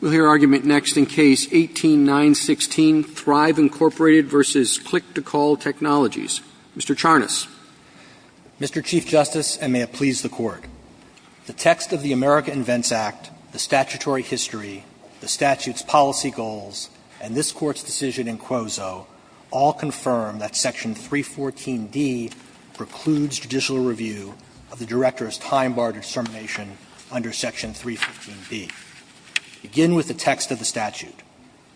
We'll hear argument next in Case 18-916, Thryv, Inc. v. Click-To-Call Technologies. Mr. Charnas. Mr. Chief Justice, and may it please the Court, the text of the America Invents Act, the statutory history, the statute's policy goals, and this Court's decision in Quozo all confirm that Section 314d precludes judicial review of the Director's time-barred dissermination under Section 314b. I begin with the text of the statute.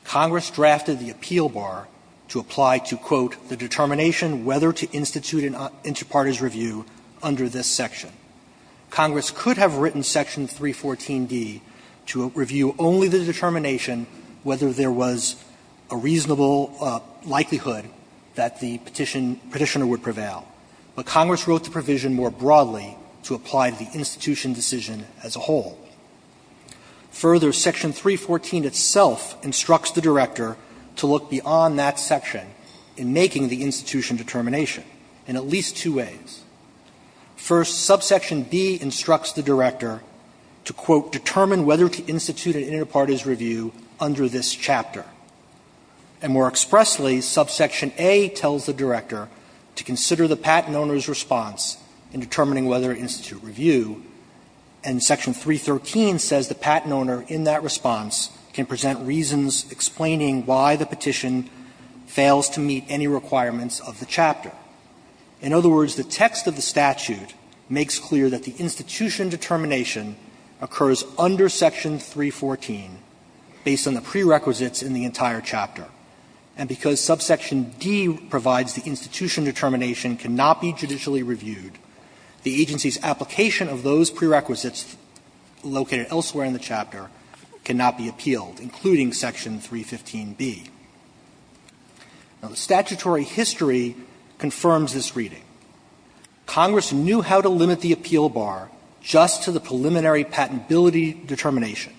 Congress drafted the appeal bar to apply to, quote, the determination whether to institute an interparties review under this section. Congress could have written Section 314d to review only the determination whether there was a reasonable likelihood that the petitioner would prevail. But Congress wrote the provision more broadly to apply to the institution decision as a whole. Further, Section 314d itself instructs the Director to look beyond that section in making the institution determination in at least two ways. First, Subsection b instructs the Director to, quote, determine whether to institute an interparties review under this chapter. And more expressly, Subsection a tells the Director to consider the patent owner's response in determining whether to institute review, and Section 313 says the patent owner in that response can present reasons explaining why the petition fails to meet any requirements of the chapter. In other words, the text of the statute makes clear that the institution determination occurs under Section 314 based on the prerequisites in the entire chapter. And because Subsection d provides the institution determination cannot be judicially reviewed, the agency's application of those prerequisites located elsewhere in the chapter cannot be appealed, including Section 315b. Now, the statutory history confirms this reading. Congress knew how to limit the appeal bar just to the preliminary patentability determination.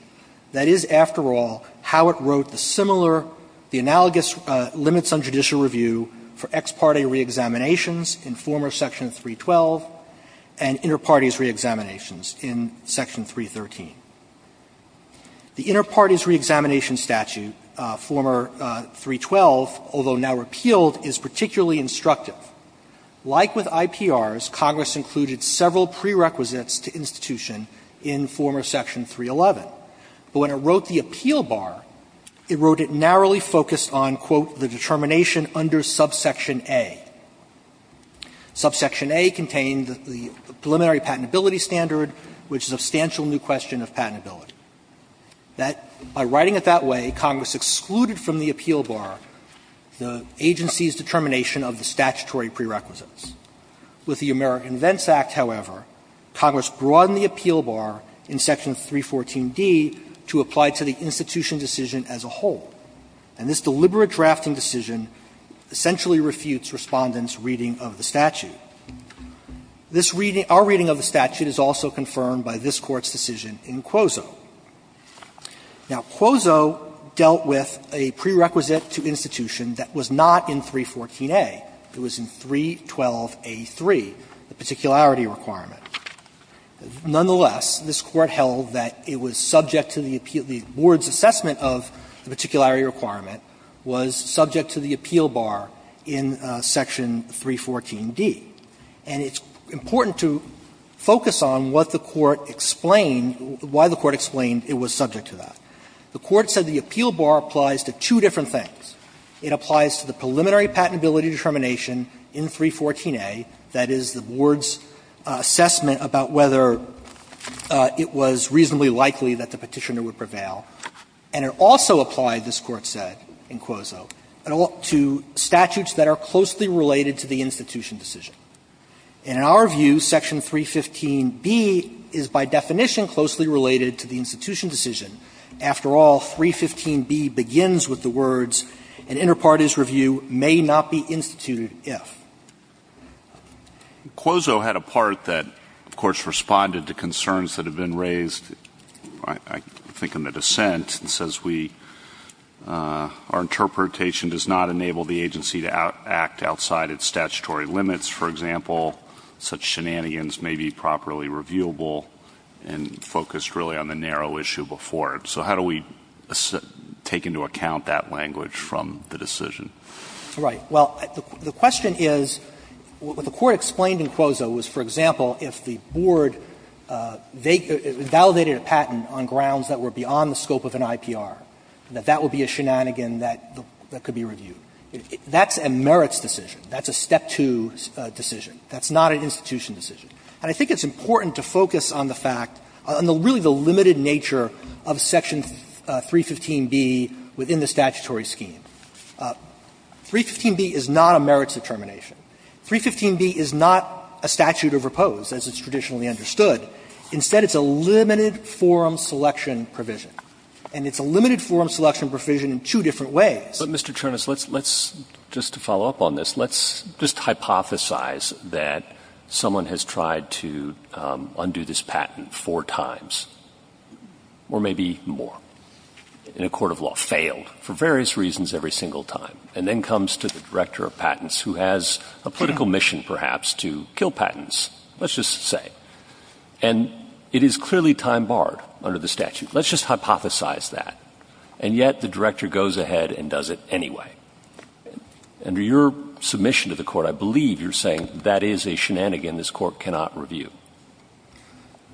That is, after all, how it wrote the similar, the analogous limits on judicial review for ex parte reexaminations in former Section 312 and interparties reexaminations in Section 313. The interparties reexamination statute, former 312, although now repealed, is particularly instructive. Like with IPRs, Congress included several prerequisites to institution in former Section 311. But when it wrote the appeal bar, it wrote it narrowly focused on, quote, the determination under Subsection a. Subsection a contained the preliminary patentability standard, which is a substantial new question of patentability. That, by writing it that way, Congress excluded from the appeal bar the agency's determination of the statutory prerequisites. With the American Vents Act, however, Congress broadened the appeal bar in Section 314d to apply to the institution decision as a whole. And this deliberate drafting decision essentially refutes Respondent's reading of the statute. This reading, our reading of the statute, is also confirmed by this Court's decision in Quoso. Now, Quoso dealt with a prerequisite to institution that was not in 314a. It was in 312a.3, the particularity requirement. Nonetheless, this Court held that it was subject to the appeal of the board's assessment of the particularity requirement was subject to the appeal bar in Section 314d. And it's important to focus on what the Court explained, why the Court explained it was subject to that. The Court said the appeal bar applies to two different things. It applies to the preliminary patentability determination in 314a, that is, the board's assessment about whether it was reasonably likely that the Petitioner would prevail. And it also applied, this Court said in Quoso, to statutes that are closely related to the institution decision. And in our view, Section 315b is by definition closely related to the institution decision. After all, 315b begins with the words, an inter partes review may not be instituted if. Quoso had a part that, of course, responded to concerns that have been raised, I think in the dissent, and says we, our interpretation does not enable the agency to act outside its statutory limits. For example, such shenanigans may be properly reviewable and focused really on the narrow issue before it. So how do we take into account that language from the decision? Right. Well, the question is, what the Court explained in Quoso was, for example, if the board, they validated a patent on grounds that were beyond the scope of an IPR, that that would be a shenanigan that could be reviewed. That's a merits decision. That's a step two decision. That's not an institution decision. And I think it's important to focus on the fact, on really the limited nature of Section 315b within the statutory scheme. 315b is not a merits determination. 315b is not a statute of repose, as it's traditionally understood. Instead, it's a limited forum selection provision. And it's a limited forum selection provision in two different ways. But, Mr. Czernas, let's, just to follow up on this, let's just hypothesize that someone has tried to undo this patent four times, or maybe more, in a court of law, failed for various reasons every single time, and then comes to the director of patents, who has a political mission, perhaps, to kill patents, let's just say. And it is clearly time-barred under the statute. Let's just hypothesize that. And yet, the director goes ahead and does it anyway. Under your submission to the Court, I believe you're saying that is a shenanigan this Court cannot review.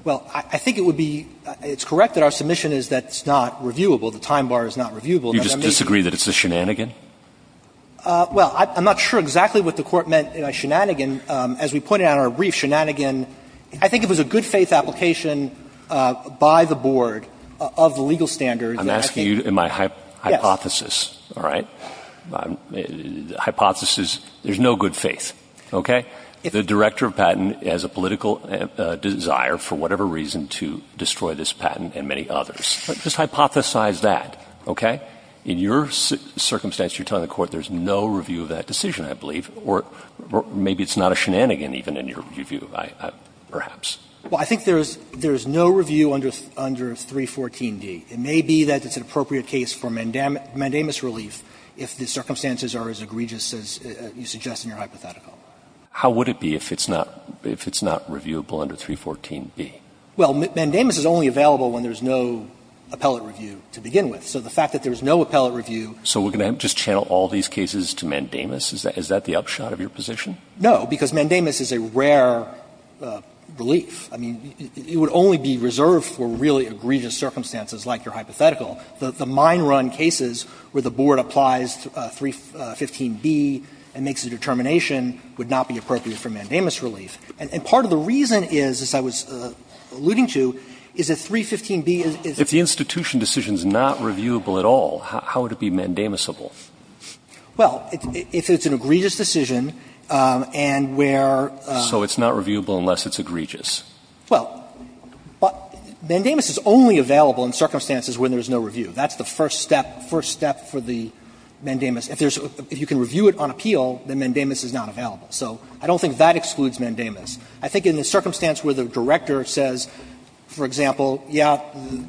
Well, I think it would be — it's correct that our submission is that it's not reviewable. The time-bar is not reviewable. Do you disagree that it's a shenanigan? Well, I'm not sure exactly what the Court meant by shenanigan. As we pointed out in our brief, shenanigan, I think it was a good-faith application by the board of the legal standards. I'm asking you in my hypothesis, all right? Hypothesis, there's no good faith, okay? The director of patent has a political desire, for whatever reason, to destroy this patent and many others. Just hypothesize that, okay? In your circumstance, you're telling the Court there's no review of that decision, I believe, or maybe it's not a shenanigan even in your view, perhaps. Well, I think there's no review under 314d. It may be that it's an appropriate case for mandamus relief if the circumstances are as egregious as you suggest in your hypothetical. How would it be if it's not — if it's not reviewable under 314b? Well, mandamus is only available when there's no appellate review to begin with. So the fact that there's no appellate review — So we're going to just channel all these cases to mandamus? Is that the upshot of your position? No, because mandamus is a rare relief. I mean, it would only be reserved for really egregious circumstances like your hypothetical. The mine run cases where the Board applies 315b and makes a determination would not be appropriate for mandamus relief. And part of the reason is, as I was alluding to, is that 315b is the institution decision is not reviewable at all, how would it be mandamusable? Well, if it's an egregious decision, and where… So it's not reviewable unless it's egregious. Well, mandamus is only available in circumstances where there's no review. That's the first step, first step for the mandamus. If there's — if you can review it on appeal, then mandamus is not available. So I don't think that excludes mandamus. I think in the circumstance where the director says, for example, yeah,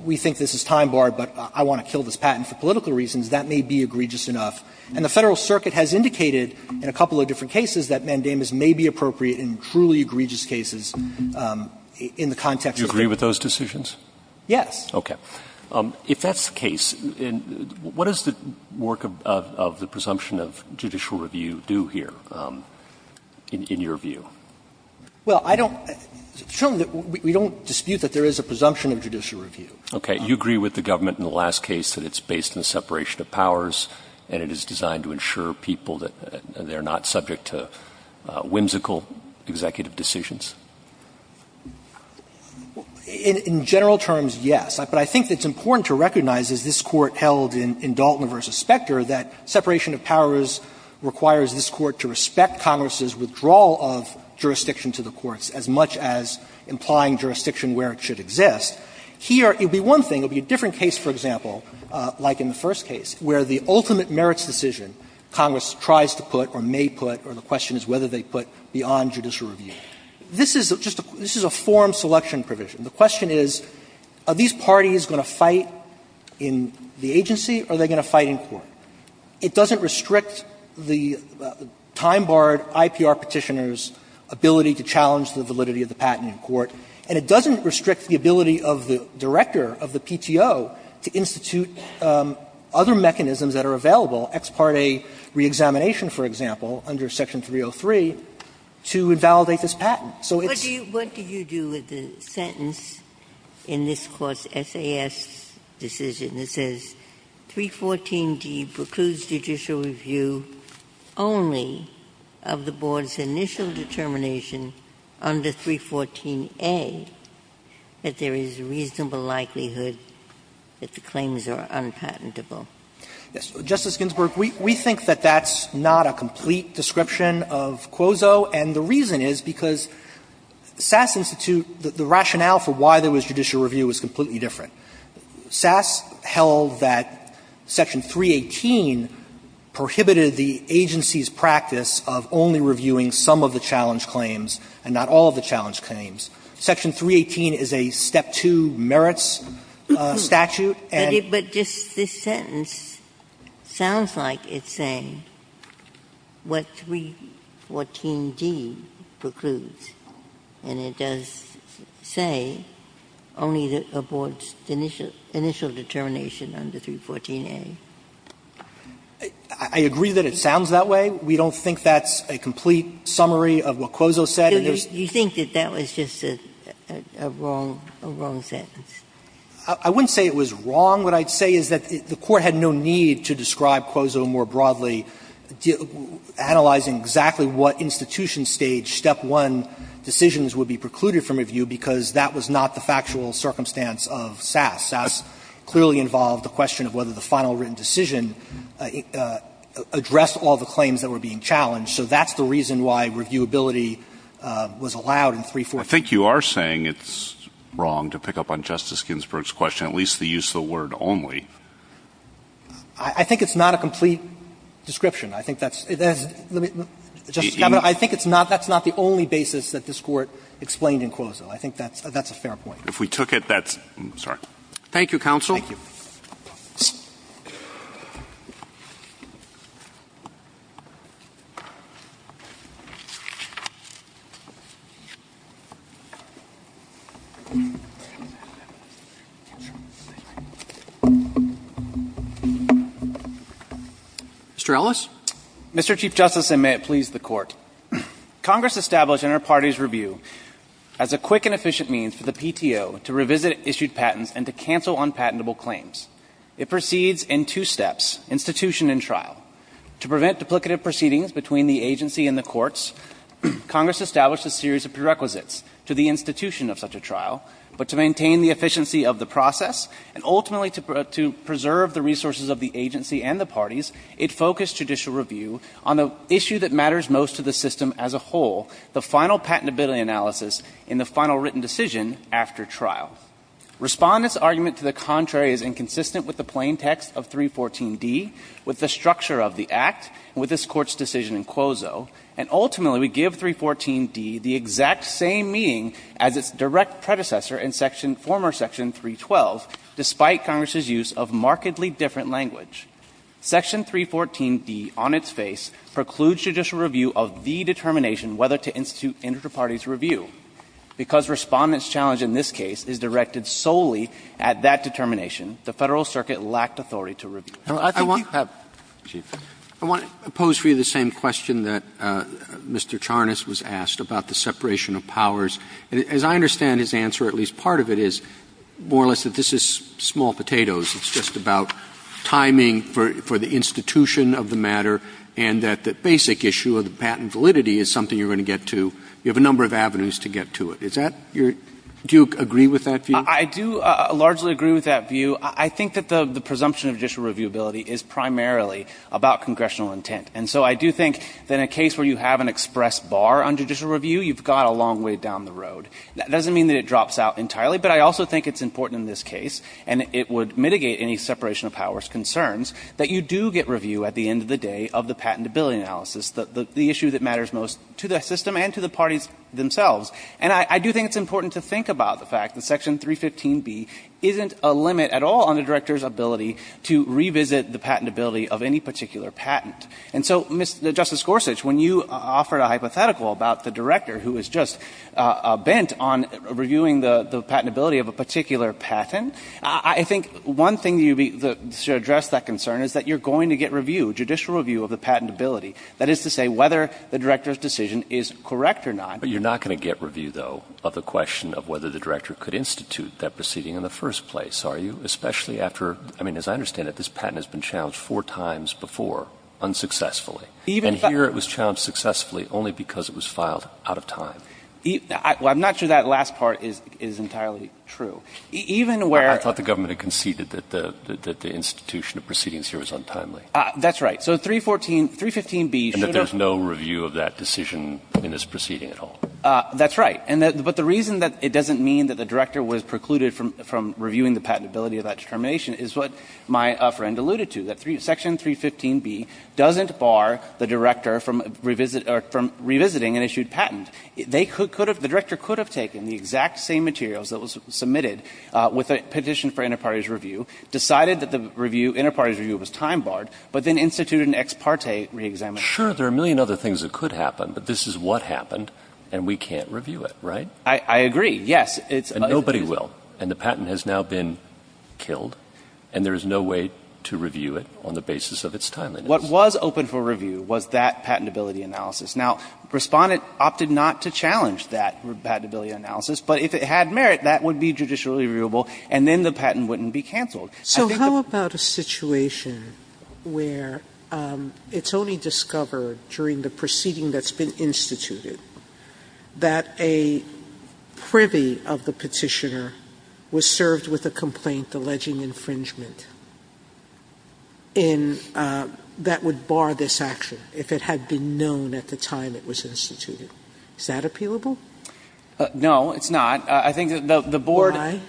we think this is time barred, but I want to kill this patent for political reasons, that may be egregious enough. And the Federal Circuit has indicated in a couple of different cases that mandamus may be appropriate in truly egregious cases in the context of the case. You agree with those decisions? Yes. Okay. If that's the case, what does the work of the presumption of judicial review do here, in your view? Well, I don't… We don't dispute that there is a presumption of judicial review. Okay. You agree with the government in the last case that it's based on the separation of powers, and it is designed to ensure people that they are not subject to what are called whimsical executive decisions? In general terms, yes. But I think it's important to recognize, as this Court held in Dalton v. Specter, that separation of powers requires this Court to respect Congress's withdrawal of jurisdiction to the courts as much as implying jurisdiction where it should exist. Here, it would be one thing. It would be a different case, for example, like in the first case, where the ultimate This is just a – this is a form selection provision. The question is, are these parties going to fight in the agency, or are they going to fight in court? It doesn't restrict the time-barred IPR Petitioner's ability to challenge the validity of the patent in court, and it doesn't restrict the ability of the director of the PTO to institute other mechanisms that are available. Ex parte reexamination, for example, under Section 303, to invalidate this patent. So it's – Ginsburg What do you do with the sentence in this Court's SAS decision that says 314D precludes judicial review only of the Board's initial determination under 314A that there is reasonable likelihood that the claims are unpatentable? Yes. Justice Ginsburg, we think that that's not a complete description of Quozo, and the reason is because SAS Institute, the rationale for why there was judicial review was completely different. SAS held that Section 318 prohibited the agency's practice of only reviewing some of the challenge claims and not all of the challenge claims. Section 318 is a step-two merits statute, and – Ginsburg This sentence sounds like it's saying what 314D precludes, and it does say only that the Board's initial determination under 314A. I agree that it sounds that way. We don't think that's a complete summary of what Quozo said. Ginsburg Do you think that that was just a wrong sentence? I wouldn't say it was wrong. What I'd say is that the Court had no need to describe Quozo more broadly, analyzing exactly what institution stage step-one decisions would be precluded from review, because that was not the factual circumstance of SAS. SAS clearly involved the question of whether the final written decision addressed all the claims that were being challenged. So that's the reason why reviewability was allowed in 314. I think you are saying it's wrong, to pick up on Justice Ginsburg's question, at least to use the word only. I think it's not a complete description. I think that's – let me – Justice Scalia, I think it's not – that's not the only basis that this Court explained in Quozo. I think that's a fair point. If we took it, that's – I'm sorry. Thank you, counsel. Thank you. Mr. Ellis. Mr. Chief Justice, and may it please the Court. Congress established in our party's review as a quick and efficient means for the It proceeds in two steps, institution and trial. To prevent duplicative proceedings between the agency and the courts, Congress established a series of prerequisites to the institution of such a trial, but to maintain the efficiency of the process and ultimately to preserve the resources of the agency and the parties, it focused judicial review on the issue that matters most to the system as a whole, the final patentability analysis in the final written decision after trial. Respondents' argument to the contrary is inconsistent with the plain text of 314d, with the structure of the Act, with this Court's decision in Quozo, and ultimately we give 314d the exact same meaning as its direct predecessor in section – former section 312, despite Congress's use of markedly different language. Section 314d on its face precludes judicial review of the determination whether to institute interparty's review, because Respondent's challenge in this case is directly directed solely at that determination. The Federal Circuit lacked authority to review it. I think you have – I want to pose for you the same question that Mr. Charnas was asked about the separation of powers. As I understand his answer, at least part of it is more or less that this is small potatoes. It's just about timing for the institution of the matter and that the basic issue of the patent validity is something you're going to get to. You have a number of avenues to get to it. Is that your – do you agree with that view? I do largely agree with that view. I think that the presumption of judicial reviewability is primarily about congressional intent. And so I do think that in a case where you have an express bar on judicial review, you've got a long way down the road. That doesn't mean that it drops out entirely, but I also think it's important in this case, and it would mitigate any separation of powers concerns, that you do get review at the end of the day of the patentability analysis, the issue that matters most to the system and to the parties themselves. And I do think it's important to think about the fact that Section 315B isn't a limit at all on the director's ability to revisit the patentability of any particular patent. And so, Justice Gorsuch, when you offered a hypothetical about the director who was just bent on reviewing the patentability of a particular patent, I think one thing you should address that concern is that you're going to get review, judicial review of the patentability. That is to say whether the director's decision is correct or not. But you're not going to get review, though, of the question of whether the director could institute that proceeding in the first place, are you? Especially after, I mean, as I understand it, this patent has been challenged four times before, unsuccessfully. And here it was challenged successfully only because it was filed out of time. I'm not sure that last part is entirely true. Even where the government conceded that the institution of proceedings here was untimely. That's right. So 314, 315B should have. And that there's no review of that decision in this proceeding at all. That's right. But the reason that it doesn't mean that the director was precluded from reviewing the patentability of that determination is what my friend alluded to, that section 315B doesn't bar the director from revisiting an issued patent. They could have, the director could have taken the exact same materials that was submitted with a petition for inter partes review, decided that the review, inter partes review was time barred, but then instituted an ex parte reexamination. Sure. There are a million other things that could happen. But this is what happened. And we can't review it, right? I agree. Yes. And nobody will. And the patent has now been killed. And there is no way to review it on the basis of its timeliness. What was open for review was that patentability analysis. Now, Respondent opted not to challenge that patentability analysis. But if it had merit, that would be judicially reviewable. And then the patent wouldn't be canceled. So how about a situation where it's only discovered during the proceeding that's been instituted, that a privy of the petitioner was served with a complaint alleging infringement in that would bar this action if it had been known at the time it was instituted? Is that appealable? No, it's not. I think the board Why?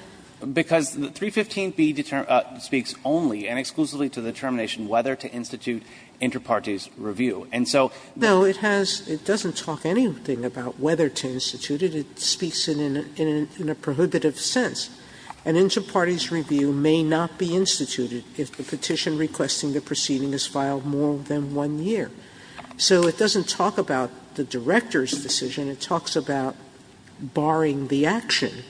Because 315B speaks only and exclusively to the determination whether to institute inter partes review. And so the No. It has It doesn't talk anything about whether to institute it. It speaks in a prohibitive sense. An inter partes review may not be instituted if the petition requesting the proceeding is filed more than one year. So it doesn't talk about the director's decision. It talks about barring the action.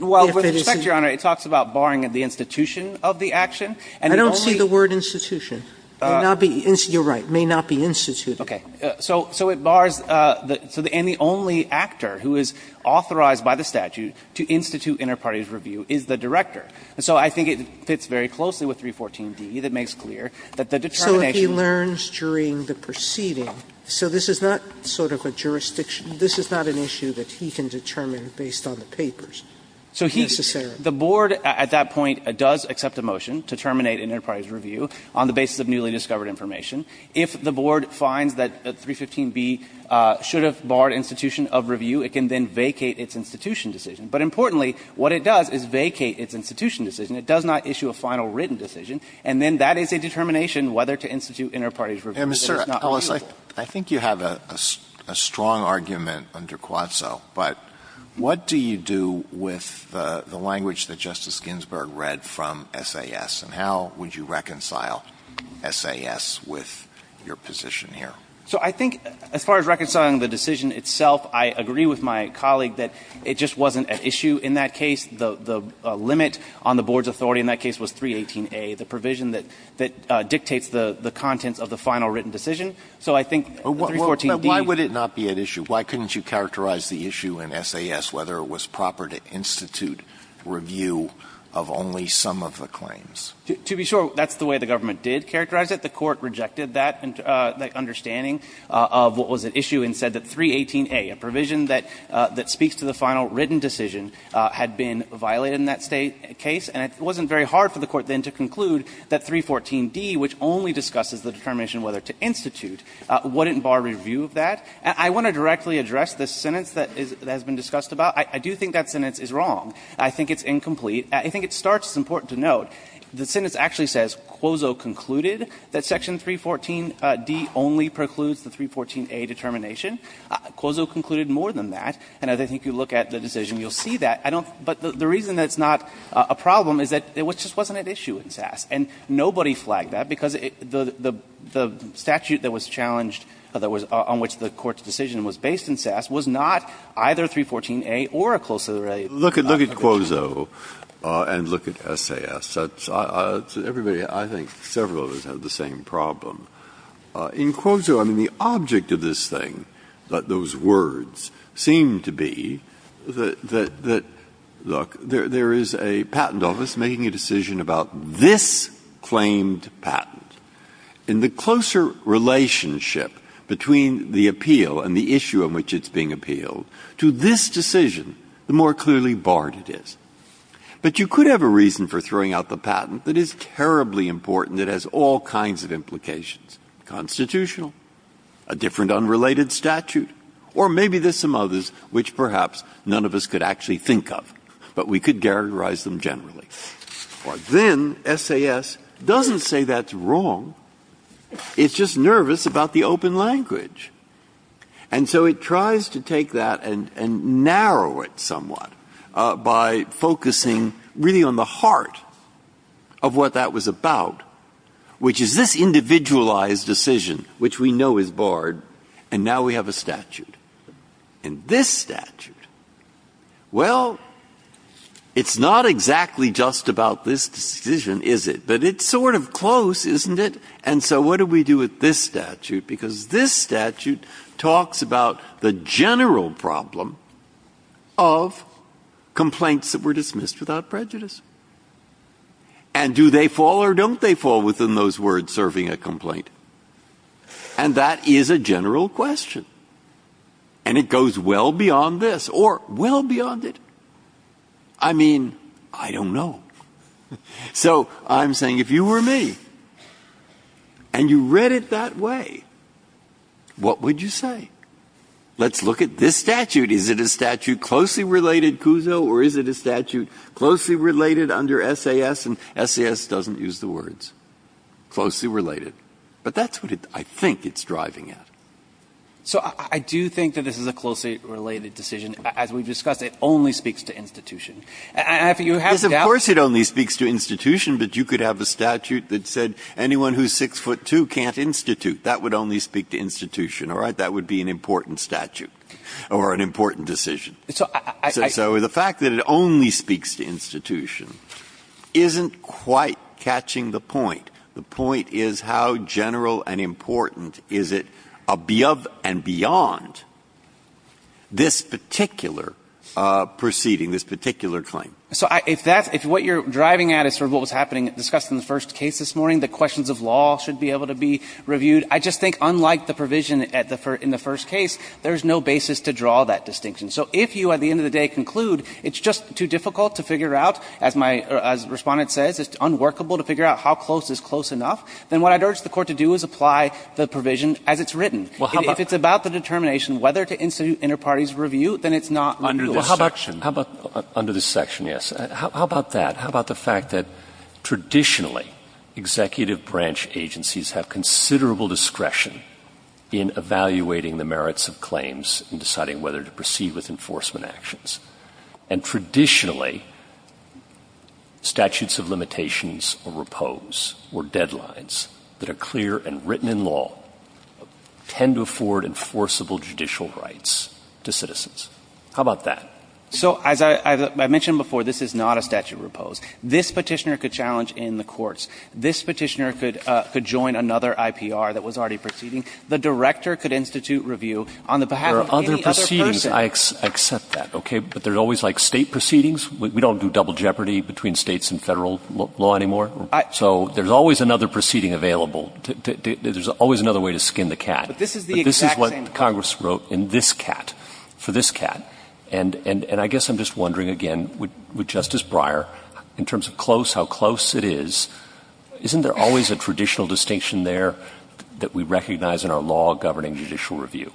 Well, with respect, Your Honor, it talks about barring the institution of the action. And it only I don't see the word institution. It may not be You're right. It may not be instituted. Okay. So it bars the and the only actor who is authorized by the statute to institute inter partes review is the director. And so I think it fits very closely with 314D that makes clear that the determination So if he learns during the proceeding, so this is not sort of a jurisdiction this is not an issue that he can determine based on the papers, necessarily. The board at that point does accept a motion to terminate inter partes review on the basis of newly discovered information. If the board finds that 315B should have barred institution of review, it can then vacate its institution decision. But importantly, what it does is vacate its institution decision. It does not issue a final written decision. And then that is a determination whether to institute inter partes review. And it's not reasonable. I think you have a strong argument under Quazzo, but what do you do with the language that Justice Ginsburg read from SAS, and how would you reconcile SAS with your position here? So I think as far as reconciling the decision itself, I agree with my colleague that it just wasn't at issue in that case. The limit on the board's authority in that case was 318A, the provision that dictates the contents of the final written decision. So I think 314D. But why would it not be at issue? Why couldn't you characterize the issue in SAS, whether it was proper to institute review of only some of the claims? To be sure, that's the way the government did characterize it. The Court rejected that understanding of what was at issue and said that 318A, a provision that speaks to the final written decision, had been violated in that State case. And it wasn't very hard for the Court then to conclude that 314D, which only discusses the determination whether to institute, wouldn't bar review of that. I want to directly address the sentence that has been discussed about. I do think that sentence is wrong. I think it's incomplete. I think it starts, it's important to note, the sentence actually says Quoso concluded that section 314D only precludes the 314A determination. Quoso concluded more than that. And I think if you look at the decision, you'll see that. I don't – but the reason that it's not a problem is that it just wasn't at issue in SAS. And nobody flagged that because the statute that was challenged, that was on which the Court's decision was based in SAS, was not either 314A or a closely related But if you look at Quoso and look at SAS, everybody, I think several of us have the same problem. In Quoso, I mean, the object of this thing, those words, seem to be that, look, there is a patent office making a decision about this claimed patent. And the closer relationship between the appeal and the issue on which it's being appealed to this decision, the more clearly barred it is. But you could have a reason for throwing out the patent that is terribly important that has all kinds of implications, constitutional, a different unrelated statute, or maybe there's some others which perhaps none of us could actually think of, but we could characterize them generally. But then SAS doesn't say that's wrong. It's just nervous about the open language. And so it tries to take that and narrow it somewhat by focusing really on the heart of what that was about, which is this individualized decision, which we know is barred, and now we have a statute. And this statute, well, it's not exactly just about this decision, is it? But it's sort of close, isn't it? And so what do we do with this statute? Because this statute talks about the general problem of complaints that were dismissed without prejudice. And do they fall or don't they fall within those words, serving a complaint? And that is a general question. And it goes well beyond this, or well beyond it. I mean, I don't know. So I'm saying if you were me and you read it that way, what would you say? Let's look at this statute. Is it a statute closely related CUSO or is it a statute closely related under SAS? And SAS doesn't use the words closely related. But that's what I think it's driving at. So I do think that this is a closely related decision. As we've discussed, it only speaks to institution. And if you have a doubt. Breyer. Of course it only speaks to institution, but you could have a statute that said anyone who's 6'2 can't institute. That would only speak to institution, all right? That would be an important statute or an important decision. So the fact that it only speaks to institution isn't quite catching the point. The point is how general and important is it of and beyond this particular proceeding, this particular claim? So if what you're driving at is sort of what was happening, discussed in the first case this morning, the questions of law should be able to be reviewed. I just think unlike the provision in the first case, there's no basis to draw that distinction. So if you, at the end of the day, conclude it's just too difficult to figure out, as my respondent says, it's unworkable to figure out how close is close enough, then what I'd urge the court to do is apply the provision as it's written. If it's about the determination whether to institute inter-parties review, then it's not under this section. Well, how about under this section, yes. How about that? How about the fact that traditionally, executive branch agencies have considerable discretion in evaluating the merits of claims and deciding whether to proceed with enforcement actions. And traditionally, statutes of limitations or repose or deadlines that are clear and written in law tend to afford enforceable judicial rights to citizens. How about that? So as I mentioned before, this is not a statute of repose. This Petitioner could challenge in the courts. This Petitioner could join another IPR that was already proceeding. The director could institute review on the behalf of any other person. There are other proceedings. I accept that, okay? But there's always like State proceedings. We don't do double jeopardy between States and Federal law anymore. So there's always another proceeding available. There's always another way to skin the cat. But this is the exact same thing. Congress wrote in this cat, for this cat. And I guess I'm just wondering, again, with Justice Breyer, in terms of close, how close it is, isn't there always a traditional distinction there that we recognize in our law governing judicial review?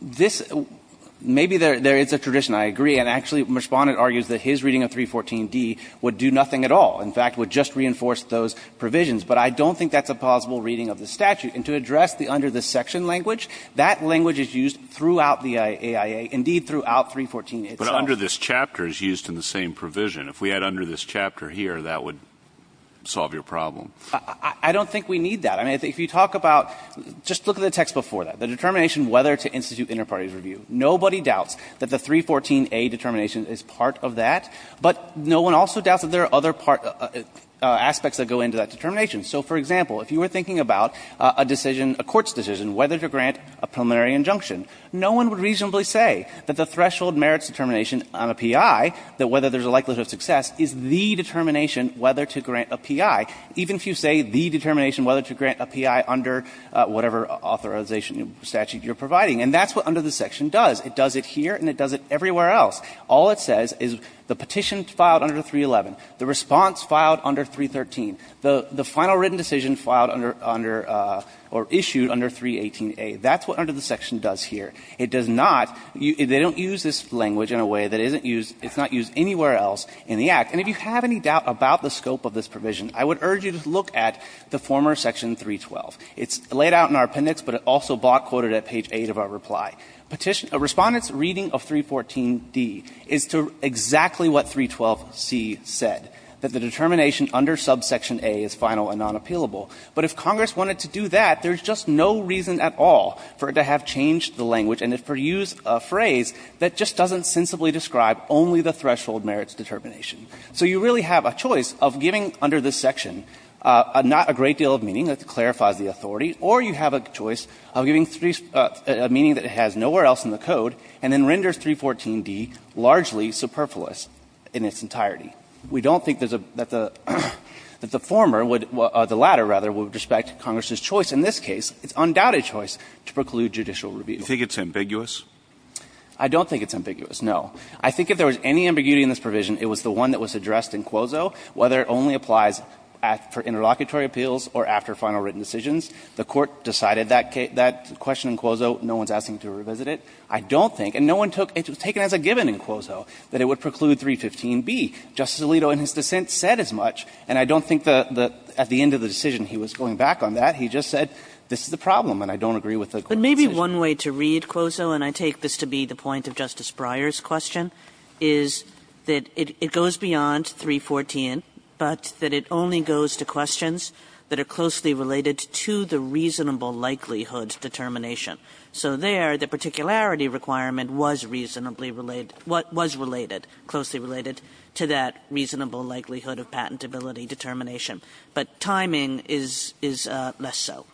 This — maybe there is a tradition, I agree. And actually, the Respondent argues that his reading of 314D would do nothing at all, in fact, would just reinforce those provisions. But I don't think that's a plausible reading of the statute. And to address the under the section language, that language is used throughout the AIA, indeed throughout 314 itself. But under this chapter is used in the same provision. If we had under this chapter here, that would solve your problem. I don't think we need that. I mean, if you talk about — just look at the text before that. The determination whether to institute inter parties review. Nobody doubts that the 314A determination is part of that. But no one also doubts that there are other aspects that go into that determination. So, for example, if you were thinking about a decision, a court's decision, whether to grant a preliminary injunction, no one would reasonably say that the threshold merits determination on a P.I., that whether there's a likelihood of success, is the determination whether to grant a P.I., even if you say the determination whether to grant a P.I. under whatever authorization or statute you're providing. And that's what under the section does. It does it here and it does it everywhere else. All it says is the petition filed under 311, the response filed under 313, the final written decision filed under — or issued under 318A. That's what under the section does here. It does not — they don't use this language in a way that isn't used — it's not used anywhere else in the Act. And if you have any doubt about the scope of this provision, I would urge you to look at the former section 312. It's laid out in our appendix, but it's also block-quoted at page 8 of our reply. Respondent's reading of 314D is to exactly what 312C said, that the determination under subsection A is final and non-appealable. But if Congress wanted to do that, there's just no reason at all for it to have changed the language and to use a phrase that just doesn't sensibly describe only the threshold merits determination. So you really have a choice of giving, under this section, not a great deal of meaning that clarifies the authority, or you have a choice of giving a meaning that has nowhere else in the code and then renders 314D largely superfluous in its entirety. We don't think there's a — that the former would — the latter, rather, would respect Congress's choice. In this case, it's undoubted choice to preclude judicial rebuttal. Kennedy. Do you think it's ambiguous? I don't think it's ambiguous, no. I think if there was any ambiguity in this provision, it was the one that was addressed in Quozo, whether it only applies for interlocutory appeals or after final written decisions. The Court decided that question in Quozo. No one's asking to revisit it. I don't think — and no one took — it was taken as a given in Quozo that it would preclude 315B. Justice Alito, in his dissent, said as much, and I don't think the — at the end of the decision, he was going back on that. He just said, this is the problem, and I don't agree with the Court's decision. Kagan. But maybe one way to read Quozo, and I take this to be the point of Justice Breyer's question, is that it goes beyond 314, but that it only goes to questions that are closely related to the reasonable likelihood determination. So there, the particularity requirement was reasonably related — was related, closely related to that reasonable likelihood of patentability determination. But timing is — is less so.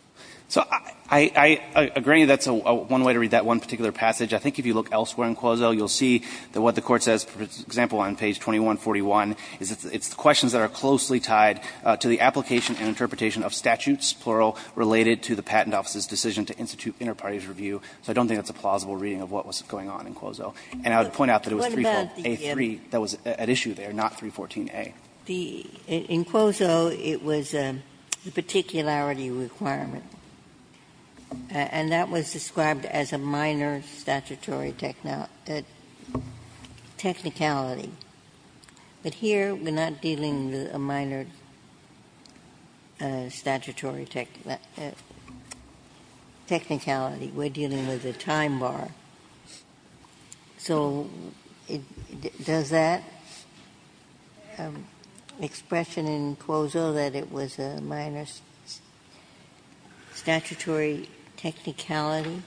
So I — I agree that's one way to read that one particular passage. I think if you look elsewhere in Quozo, you'll see that what the Court says, for example, on page 2141, is it's questions that are closely tied to the application and interpretation of statutes, plural, related to the Patent Office's decision to institute interparties review. So I don't think that's a plausible reading of what was going on in Quozo. And I would point out that it was 314a-3 that was at issue there, not 314a. Ginsburg. In Quozo, it was the particularity requirement, and that was described as a minor statutory technicality. But here, we're not dealing with a minor statutory technicality. We're dealing with a time bar. So does that expression in Quozo that it was a minor statutory technicality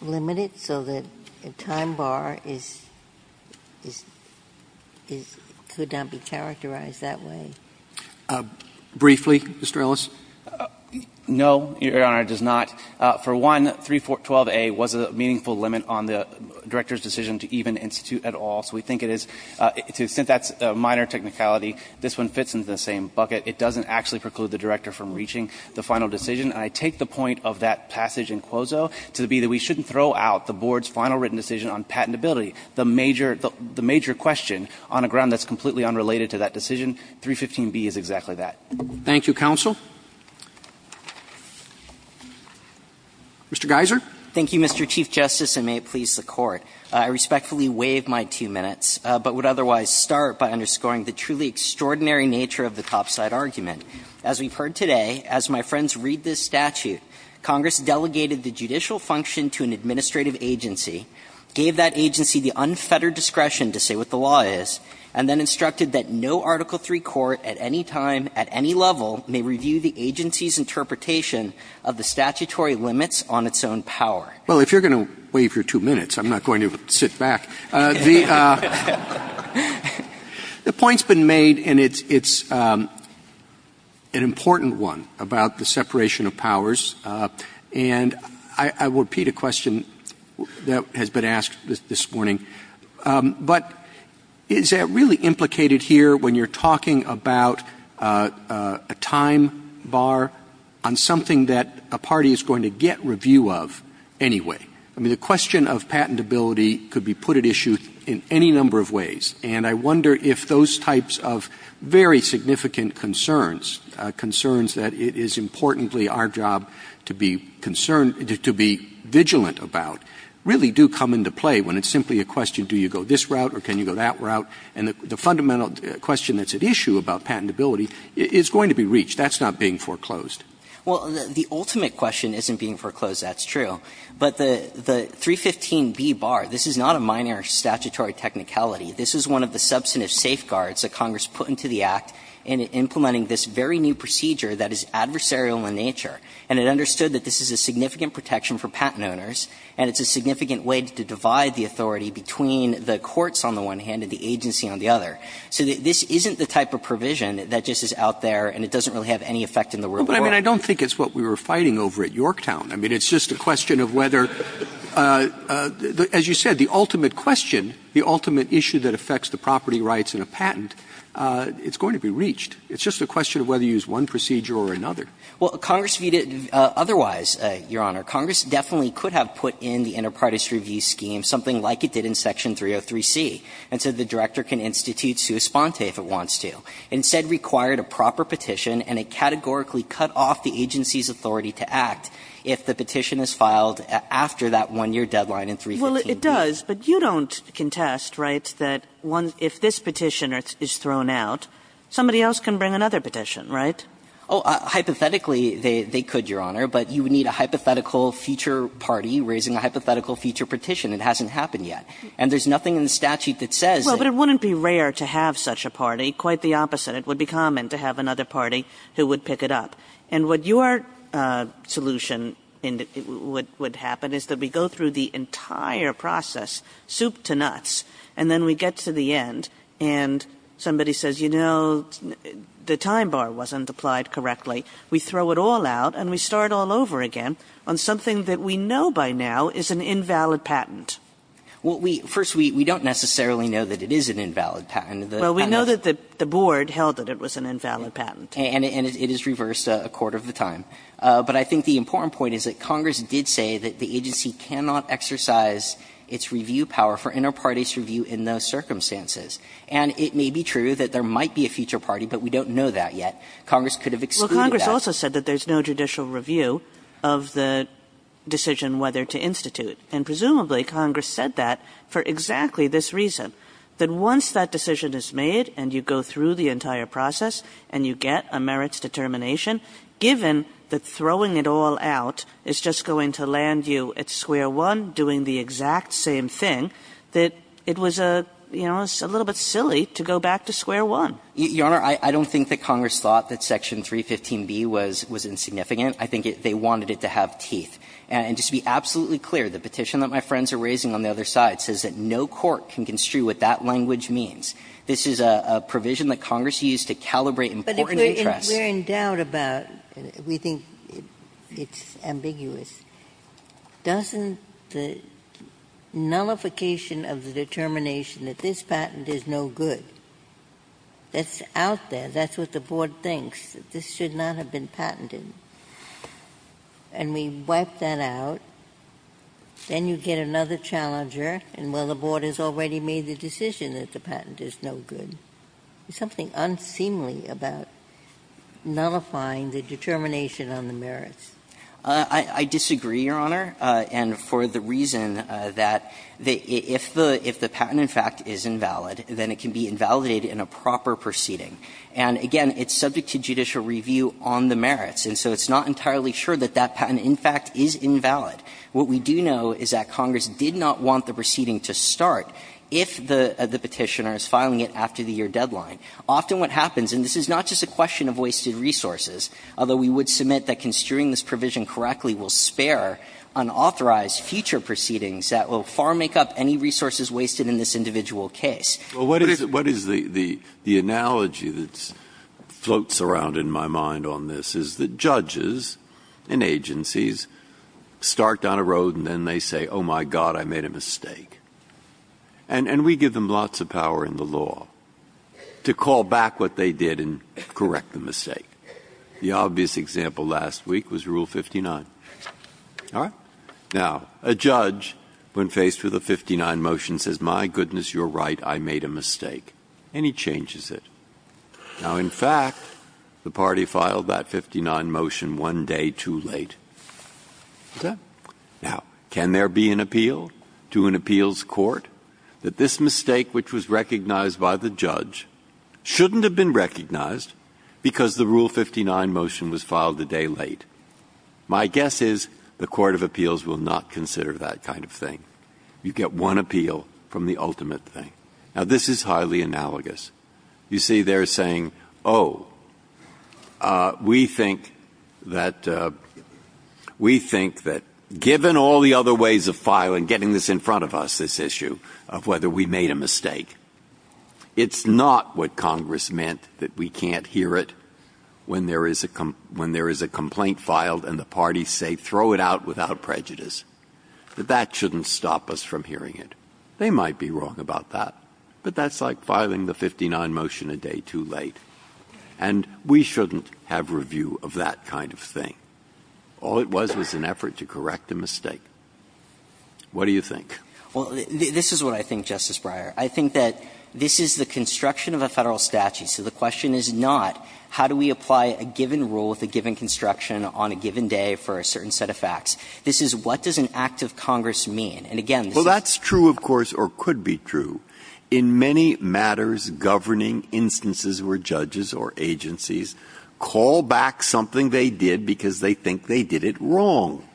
limit it so that a time bar is — is — could not be characterized that way? Briefly, Mr. Ellis? No, Your Honor, it does not. For one, 312a was a meaningful limit on the director's decision to even institute at all. So we think it is — since that's a minor technicality, this one fits into the same bucket. It doesn't actually preclude the director from reaching the final decision. And I take the point of that passage in Quozo to be that we shouldn't throw out the Board's final written decision on patentability, the major — the major question on a ground that's completely unrelated to that decision. 315b is exactly that. Thank you, counsel. Mr. Geiser. Thank you, Mr. Chief Justice, and may it please the Court. I respectfully waive my two minutes, but would otherwise start by underscoring the truly extraordinary nature of the topside argument. As we've heard today, as my friends read this statute, Congress delegated the judicial function to an administrative agency, gave that agency the unfettered discretion to say what the law is, and then instructed that no Article III court at any time, at any level, may review the agency's interpretation of the statutory limits on its own power. Well, if you're going to waive your two minutes, I'm not going to sit back. The point's been made, and it's an important one, about the separation of powers. And I will repeat a question that has been asked this morning. But is that really implicated here when you're talking about a time bar on something that a party is going to get review of anyway? I mean, the question of patentability could be put at issue in any number of ways. And I wonder if those types of very significant concerns, concerns that it is importantly our job to be concerned, to be vigilant about, really do come into play when it's simply a question, do you go this route or can you go that route? And the fundamental question that's at issue about patentability is going to be reached. That's not being foreclosed. Well, the ultimate question isn't being foreclosed. That's true. But the 315B bar, this is not a minor statutory technicality. This is one of the substantive safeguards that Congress put into the Act in implementing this very new procedure that is adversarial in nature. And it understood that this is a significant protection for patent owners, and it's a significant way to divide the authority between the courts on the one hand and the agency on the other. So this isn't the type of provision that just is out there and it doesn't really have any effect in the real world. But I mean, I don't think it's what we were fighting over at Yorktown. I mean, it's just a question of whether, as you said, the ultimate question, the ultimate issue that affects the property rights in a patent, it's going to be reached. It's just a question of whether you use one procedure or another. Well, Congress viewed it otherwise, Your Honor. Congress definitely could have put in the inter partes review scheme something like it did in Section 303C, and so the director can institute sua sponte if it wants to. Instead, required a proper petition and it categorically cut off the agency's authority to act if the petition is filed after that one-year deadline in 315B. Well, it does, but you don't contest, right, that if this petition is thrown out, somebody else can bring another petition, right? Oh, hypothetically, they could, Your Honor, but you would need a hypothetical feature party raising a hypothetical feature petition. It hasn't happened yet. And there's nothing in the statute that says that. Well, but it wouldn't be rare to have such a party. Quite the opposite. It would be common to have another party who would pick it up. And what your solution would happen is that we go through the entire process, soup to nuts, and then we get to the end and somebody says, you know, the time bar wasn't applied correctly. We throw it all out and we start all over again on something that we know by now is an invalid patent. Well, we don't necessarily know that it is an invalid patent. Well, we know that the board held that it was an invalid patent. And it is reversed a quarter of the time. But I think the important point is that Congress did say that the agency cannot exercise its review power for interparties' review in those circumstances. And it may be true that there might be a feature party, but we don't know that yet. Congress could have excluded that. Well, Congress also said that there's no judicial review of the decision whether to institute. And presumably, Congress said that for exactly this reason, that once that decision is made and you go through the entire process and you get a merits determination, given that throwing it all out is just going to land you at square one doing the exact same thing, that it was a, you know, a little bit silly to go back to square one. Your Honor, I don't think that Congress thought that section 315B was insignificant. I think they wanted it to have teeth. And just to be absolutely clear, the petition that my friends are raising on the other side says that no court can construe what that language means. This is a provision that Congress used to calibrate important interests. Ginsburg. But if we're in doubt about it, we think it's ambiguous, doesn't the nullification of the determination that this patent is no good, that's out there, that's what the Board thinks, that this should not have been patented, and we wipe that out, then you get another challenger and, well, the Board has already made the decision that the patent is no good. There's something unseemly about nullifying the determination on the merits. I disagree, Your Honor, and for the reason that if the patent, in fact, is invalid, then it can be invalidated in a proper proceeding. And again, it's subject to judicial review on the merits, and so it's not entirely sure that that patent, in fact, is invalid. What we do know is that Congress did not want the proceeding to start if the Petitioner is filing it after the year deadline. Often what happens, and this is not just a question of wasted resources, although we would submit that construing this provision correctly will spare unauthorized future proceedings that will far make up any resources wasted in this individual case. Breyer. Well, what is the analogy that floats around in my mind on this is that judges and agencies start down a road and then they say, oh, my God, I made a mistake. And we give them lots of power in the law to call back what they did and correct the mistake. The obvious example last week was Rule 59. All right? Now, a judge, when faced with a 59 motion, says, my goodness, you're right, I made a mistake. And he changes it. Now, in fact, the party filed that 59 motion one day too late. Okay? Now, can there be an appeal to an appeals court that this mistake which was recognized by the judge shouldn't have been recognized because the Rule 59 motion was filed a day late? My guess is the Court of Appeals will not consider that kind of thing. You get one appeal from the ultimate thing. Now, this is highly analogous. You see, they're saying, oh, we think that we think that given all the other ways of filing, getting this in front of us, this issue of whether we made a mistake, it's not what Congress meant that we can't hear it when there is a complaint filed and the parties say throw it out without prejudice. That that shouldn't stop us from hearing it. They might be wrong about that. But that's like filing the 59 motion a day too late. And we shouldn't have review of that kind of thing. All it was was an effort to correct a mistake. What do you think? Well, this is what I think, Justice Breyer. I think that this is the construction of a Federal statute. So the question is not how do we apply a given rule with a given construction on a given day for a certain set of facts. This is what does an act of Congress mean. And again, this is the question. Well, that's true, of course, or could be true. In many matters governing instances where judges or agencies call back something they did because they think they did it wrong,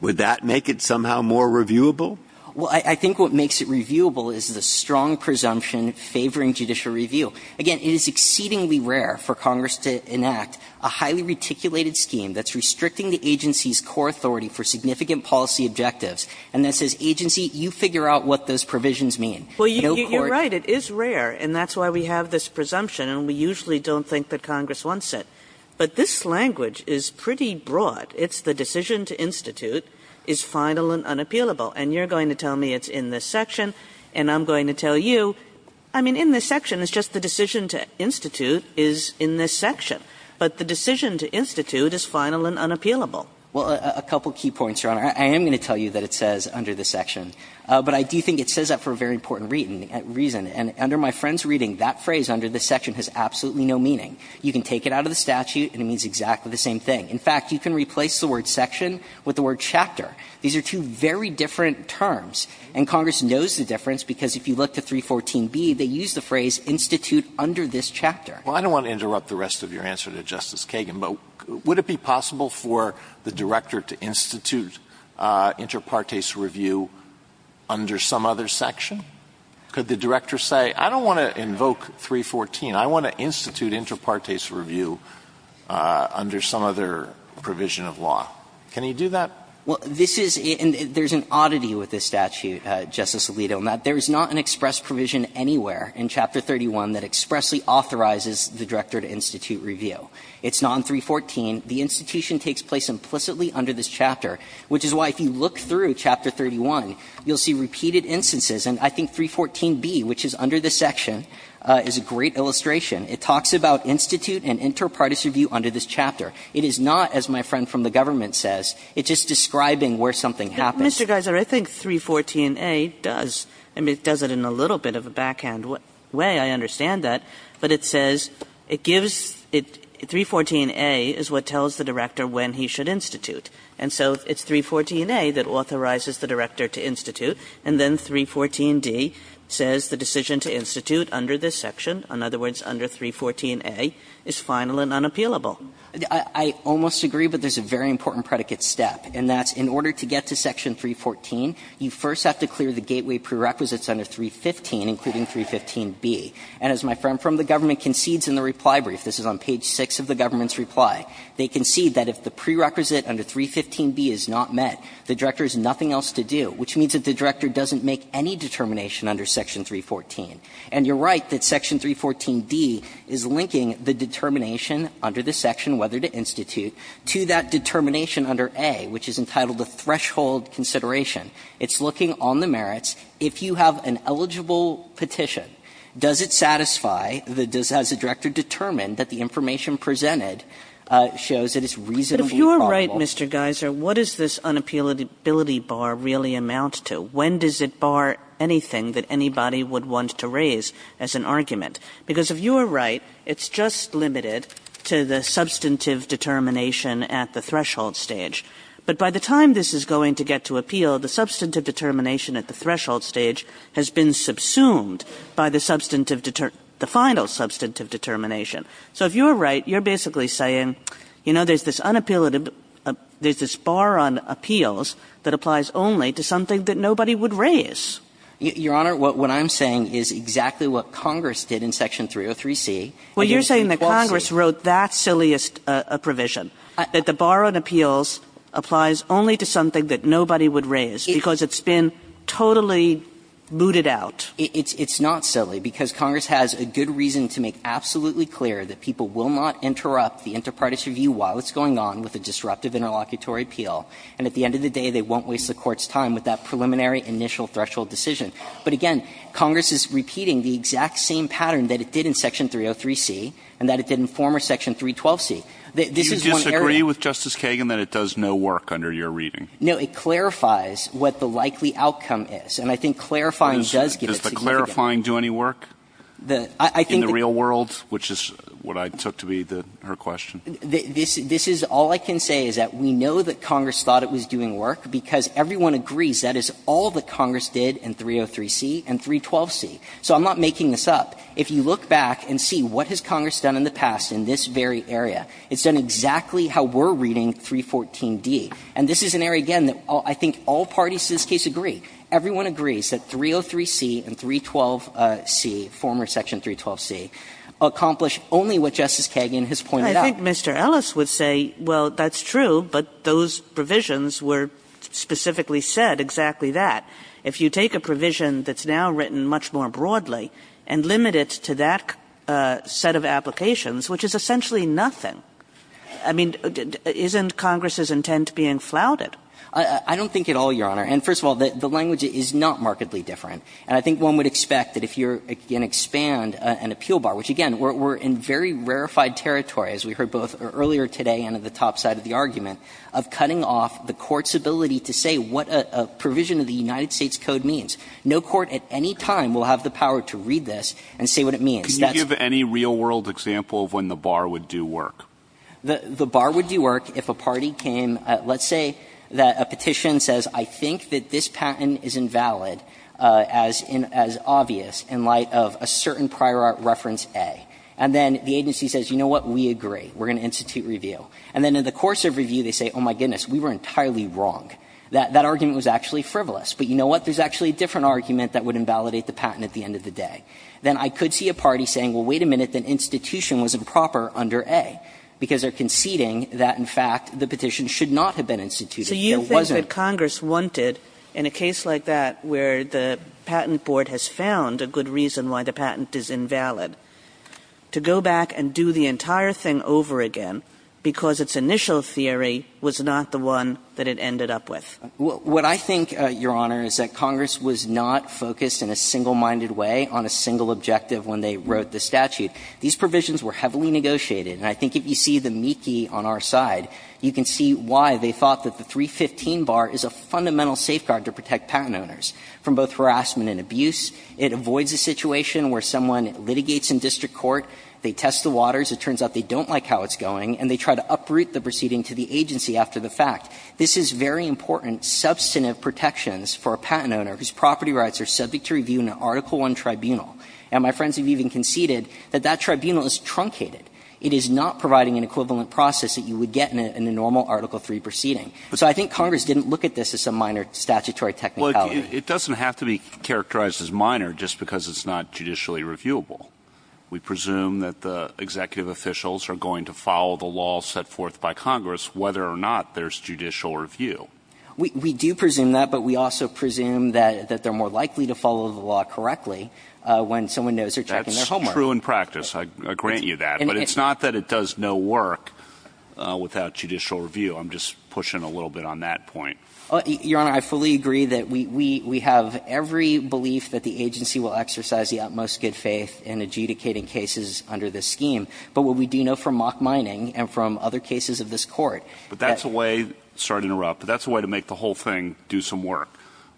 would that make it somehow more reviewable? Well, I think what makes it reviewable is the strong presumption favoring judicial review. Again, it is exceedingly rare for Congress to enact a highly reticulated scheme that's restricting the agency's core authority for significant policy objectives. And that says, agency, you figure out what those provisions mean. No court can do that. Well, you're right, it is rare, and that's why we have this presumption, and we usually don't think that Congress wants it. But this language is pretty broad. It's the decision to institute is final and unappealable. And you're going to tell me it's in this section, and I'm going to tell you, I mean, in this section, it's just the decision to institute is in this section. But the decision to institute is final and unappealable. Well, a couple of key points, Your Honor. I am going to tell you that it says under this section, but I do think it says that for a very important reason. And under my friend's reading, that phrase, under this section, has absolutely no meaning. You can take it out of the statute, and it means exactly the same thing. In fact, you can replace the word section with the word chapter. These are two very different terms, and Congress knows the difference, because if you look to 314b, they use the phrase, institute under this chapter. Well, I don't want to interrupt the rest of your answer to Justice Kagan, but would it be possible for the director to institute inter partes review under some other section? Could the director say, I don't want to invoke 314, I want to institute inter partes review under some other provision of law? Can he do that? Well, this is and there's an oddity with this statute, Justice Alito, in that there is not an express provision anywhere in Chapter 31 that expressly authorizes the director to institute review. It's not in 314. The institution takes place implicitly under this chapter, which is why if you look through Chapter 31, you'll see repeated instances. And I think 314b, which is under this section, is a great illustration. It talks about institute and inter partes review under this chapter. It is not, as my friend from the government says, it's just describing where something happens. Kagan. Mr. Geiser, I think 314a does. I mean, it does it in a little bit of a backhand way, I understand that. But it says, it gives, 314a is what tells the director when he should institute. And so it's 314a that authorizes the director to institute, and then 314d says the decision to institute under this section, in other words, under 314a, is final and unappealable. I almost agree, but there's a very important predicate step, and that's in order to get to Section 314, you first have to clear the gateway prerequisites under 315, including 315b. And as my friend from the government concedes in the reply brief, this is on page 6 of the government's reply, they concede that if the prerequisite under 315b is not met, the director has nothing else to do, which means that the director doesn't make any determination under Section 314. And you're right that Section 314d is linking the determination under this section, whether to institute, to that determination under a, which is entitled to threshold consideration. It's looking on the merits. If you have an eligible petition, does it satisfy, does it satisfy, as the director determined, that the information presented shows that it's reasonably probable? Kagan. Kagan. But if you're right, Mr. Geyser, what does this unappealability bar really amount to? When does it bar anything that anybody would want to raise as an argument? Because if you're right, it's just limited to the substantive determination at the threshold stage. But by the time this is going to get to appeal, the substantive determination at the threshold stage has been subsumed by the substantive, the final substantive determination. So if you're right, you're basically saying, you know, there's this unappealability bar on appeals that applies only to something that nobody would raise. Your Honor, what I'm saying is exactly what Congress did in Section 303c. Well, you're saying that Congress wrote that silliest provision, that the bar on appeals applies only to something that nobody would raise, because it's been totally booted out. It's not silly, because Congress has a good reason to make absolutely clear that people will not interrupt the inter partes review while it's going on with a disruptive interlocutory appeal, and at the end of the day, they won't waste the Court's time with that preliminary initial threshold decision. But again, Congress is repeating the exact same pattern that it did in Section 303c and that it did in former Section 312c. This is one area that's very important. Alito, do you disagree with Justice Kagan that it does no work under your reading? No. It clarifies what the likely outcome is, and I think clarifying does give it significance. Does the clarifying do any work in the real world, which is what I took to be her question? This is all I can say is that we know that Congress thought it was doing work because everyone agrees that is all that Congress did in 303c and 312c. So I'm not making this up. If you look back and see what has Congress done in the past in this very area, it's done exactly how we're reading 314d. And this is an area, again, that I think all parties to this case agree. Everyone agrees that 303c and 312c, former Section 312c, accomplish only what Justice Kagan has pointed out. I think Mr. Ellis would say, well, that's true, but those provisions were specifically said exactly that. If you take a provision that's now written much more broadly and limit it to that set of applications, which is essentially nothing, I mean, isn't Congress's intent being flouted? I don't think at all, Your Honor. And first of all, the language is not markedly different. And I think one would expect that if you're going to expand an appeal bar, which, again, we're in very rarefied territory, as we heard both earlier today and at the top side of the argument, of cutting off the Court's ability to say what a provision of the United States Code means. No court at any time will have the power to read this and say what it means. So that's why it's not an issue. And then, I mean, if you give any real-world example of when the bar would do work. The bar would do work if a party came at, let's say, a petition says, I think that this patent is invalid, as obvious in light of a certain prior art reference A, and then the agency says, you know what, we agree. We're going to institute review. And then in the course of review, they say, oh, my goodness, we were entirely wrong. That argument was actually frivolous. But you know what, there's actually a different argument that would invalidate the patent at the end of the day. Then I could see a party saying, well, wait a minute, that institution was improper under A, because they're conceding that, in fact, the petition should not have been It wasn't. Kagan. Kagan. So you think that Congress wanted, in a case like that where the Patent Board has found a good reason why the patent is invalid, to go back and do the entire thing over again because its initial theory was not the one that it ended up with? What I think, Your Honor, is that Congress was not focused in a single-minded way on a single objective when they wrote the statute. These provisions were heavily negotiated. And I think if you see the meekie on our side, you can see why they thought that the 315 bar is a fundamental safeguard to protect patent owners from both harassment and abuse. It avoids a situation where someone litigates in district court, they test the waters, it turns out they don't like how it's going, and they try to uproot the proceeding to the agency after the fact. This is very important substantive protections for a patent owner whose property rights are subject to review in an Article I tribunal. And my friends have even conceded that that tribunal is truncated. It is not providing an equivalent process that you would get in a normal Article III proceeding. So I think Congress didn't look at this as some minor statutory technicality. Well, it doesn't have to be characterized as minor just because it's not judicially reviewable. We presume that the executive officials are going to follow the law set forth by Congress whether or not there's judicial review. We do presume that, but we also presume that they're more likely to follow the law correctly when someone knows they're checking their work. That's true in practice. I grant you that. But it's not that it does no work without judicial review. I'm just pushing a little bit on that point. Your Honor, I fully agree that we have every belief that the agency will exercise the utmost good faith in adjudicating cases under this scheme. But what we do know from mock mining and from other cases of this court that But that's a way, sorry to interrupt, but that's a way to make the whole thing do some work.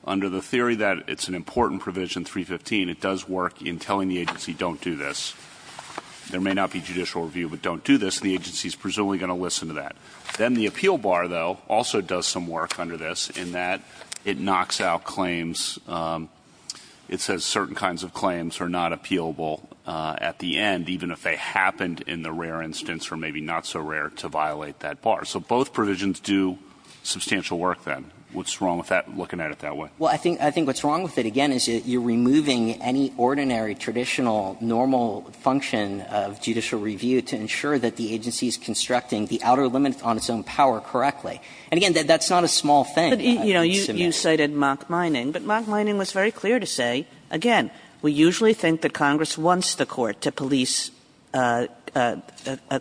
Under the theory that it's an important provision, 315, it does work in telling the agency don't do this. There may not be judicial review, but don't do this. The agency's presumably going to listen to that. Then the appeal bar, though, also does some work under this in that it knocks out claims. It says certain kinds of claims are not appealable at the end, even if they happen in the rare instance or maybe not so rare to violate that bar. So both provisions do substantial work, then. What's wrong with that, looking at it that way? Well, I think what's wrong with it, again, is you're removing any ordinary, traditional, normal function of judicial review to ensure that the agency is constructing the outer limit on its own power correctly. And, again, that's not a small thing. But, you know, you cited mock mining. But mock mining was very clear to say, again, we usually think that Congress wants the court to police a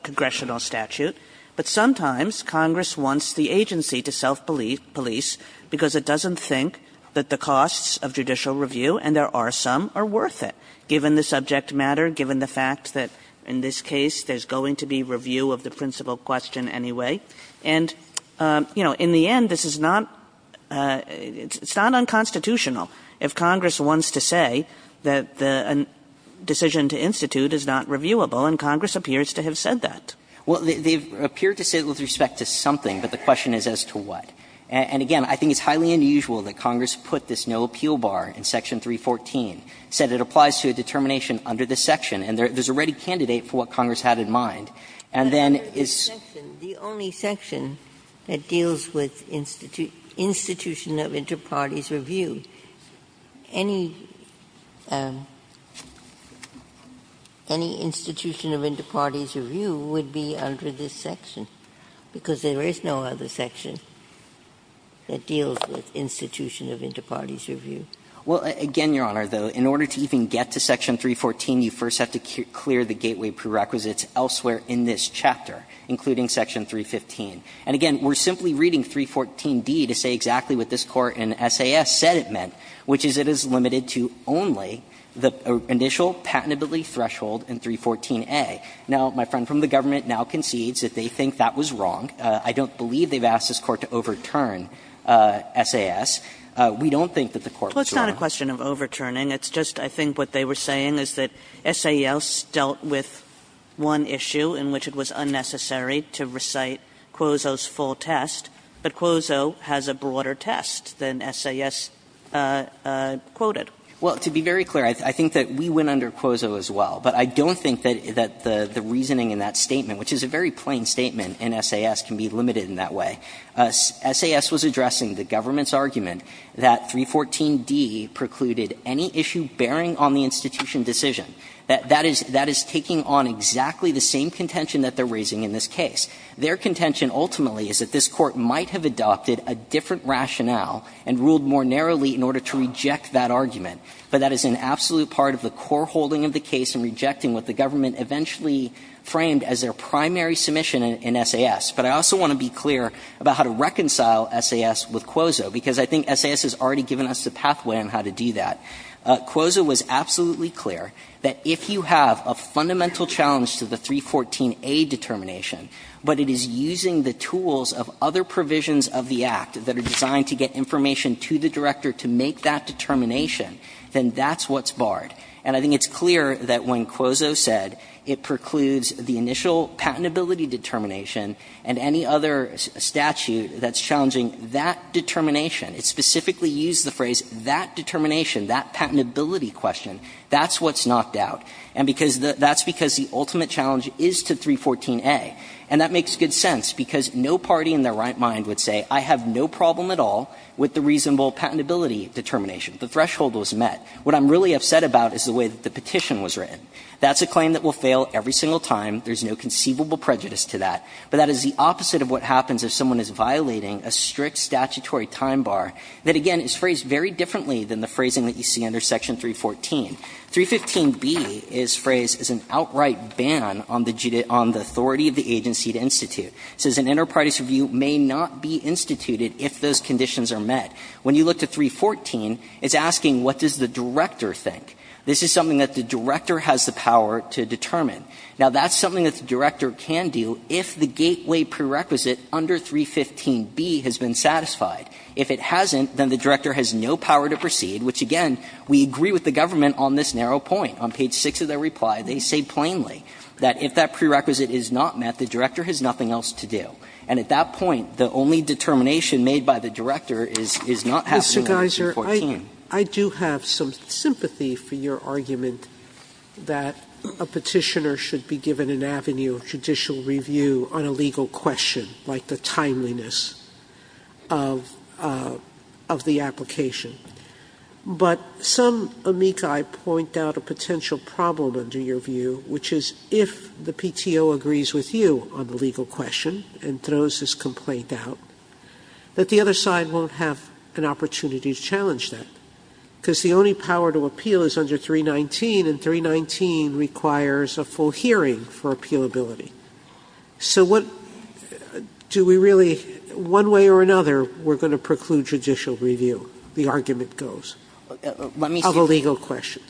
congressional statute. But sometimes Congress wants the agency to self-police because it doesn't think that the costs of judicial review, and there are some, are worth it, given the subject matter, given the fact that, in this case, there's going to be review of the principal question anyway. And, you know, in the end, this is not unconstitutional if Congress wants to say that the decision to institute is not reviewable, and Congress appears to have said that. Well, they appear to say it with respect to something, but the question is as to what. And, again, I think it's highly unusual that Congress put this no appeal bar in Section 314, said it applies to a determination under this section, and there's a ready candidate for what Congress had in mind, and then it's the only section that deals with institution of inter-parties review. Any institution of inter-parties review would be under this section, because there is no other section that deals with institution of inter-parties review. Well, again, Your Honor, though, in order to even get to Section 314, you first have to clear the gateway prerequisites elsewhere in this chapter, including Section 315. And, again, we're simply reading 314d to say exactly what this Court in SAS said it meant, which is it is limited to only the initial patentability threshold in 314a. Now, my friend from the government now concedes that they think that was wrong. I don't believe they've asked this Court to overturn SAS. We don't think that the Court was wrong. Kagan. Kagan. Kagan. It's just I think what they were saying is that SAS dealt with one issue in which it was unnecessary to recite Quozo's full test, but Quozo has a broader test than SAS quoted. Well, to be very clear, I think that we went under Quozo as well, but I don't think that the reasoning in that statement, which is a very plain statement in SAS, can be limited in that way. SAS was addressing the government's argument that 314d precluded any issue bearing on the institution decision. That is taking on exactly the same contention that they're raising in this case. Their contention ultimately is that this Court might have adopted a different rationale and ruled more narrowly in order to reject that argument, but that is an absolute part of the core holding of the case in rejecting what the government eventually framed as their primary submission in SAS. But I also want to be clear about how to reconcile SAS with Quozo, because I think SAS has already given us the pathway on how to do that. Quozo was absolutely clear that if you have a fundamental challenge to the 314a determination, but it is using the tools of other provisions of the Act that are designed to get information to the director to make that determination, then that's what's barred. And I think it's clear that when Quozo said it precludes the initial patentability determination and any other statute that's challenging that determination, it specifically used the phrase that determination, that patentability question. That's what's knocked out. And because the – that's because the ultimate challenge is to 314a. And that makes good sense, because no party in their right mind would say, I have no problem at all with the reasonable patentability determination. The threshold was met. What I'm really upset about is the way that the petition was written. That's a claim that will fail every single time. There's no conceivable prejudice to that. But that is the opposite of what happens if someone is violating a strict statutory time bar that, again, is phrased very differently than the phrasing that you see under Section 314. 315b is phrased as an outright ban on the authority of the agency to institute. It says an enterprise review may not be instituted if those conditions are met. When you look to 314, it's asking what does the director think. This is something that the director has the power to determine. Now, that's something that the director can do if the gateway prerequisite under 315b has been satisfied. If it hasn't, then the director has no power to proceed, which, again, we agree with the government on this narrow point. On page 6 of their reply, they say plainly that if that prerequisite is not met, the director has nothing else to do. And at that point, the only determination made by the director is not happening under 314. Sotomayor, I do have some sympathy for your argument that a Petitioner should be given an avenue of judicial review on a legal question, like the timeliness of the application. But some amici point out a potential problem, under your view, which is if the PTO agrees with you on the legal question and throws this complaint out, that the other side won't have an opportunity to challenge that, because the only power to appeal is under 319, and 319 requires a full hearing for appealability. So what do we really one way or another, we're going to preclude judicial review, the argument goes, of a legal question.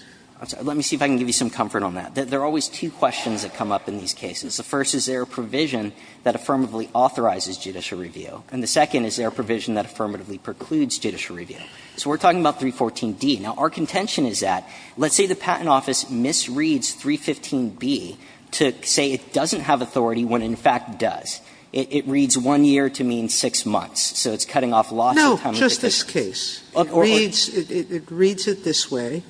Let me see if I can give you some comfort on that. There are always two questions that come up in these cases. The first is, is there a provision that affirmatively authorizes judicial review? And the second is, is there a provision that affirmatively precludes judicial review? So we're talking about 314d. Now, our contention is that, let's say the Patent Office misreads 315b to say it doesn't have authority when it in fact does. It reads 1 year to mean 6 months, so it's cutting off lots of time in the Petition. Sotomayor, just this case. It reads it this way,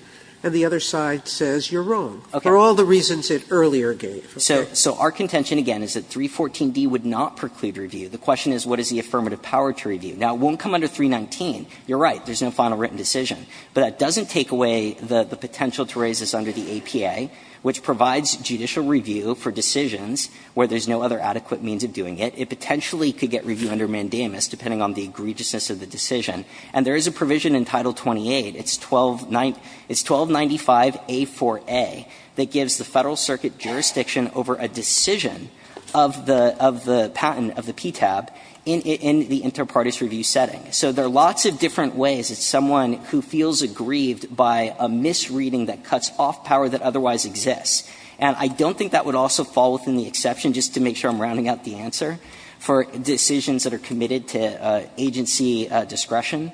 and the other side says you're wrong. For all the reasons it earlier gave. So our contention, again, is that 314d would not preclude review. The question is, what is the affirmative power to review? Now, it won't come under 319. You're right. There's no final written decision. But that doesn't take away the potential to raise this under the APA, which provides judicial review for decisions where there's no other adequate means of doing it. It potentially could get review under mandamus, depending on the egregiousness of the decision. And there is a provision in Title 28. It's 1295a4a that gives the Federal Circuit jurisdiction over a decision of the patent of the PTAB in the inter partes review setting. So there are lots of different ways that someone who feels aggrieved by a misreading that cuts off power that otherwise exists. And I don't think that would also fall within the exception, just to make sure I'm rounding out the answer, for decisions that are committed to agency discretion.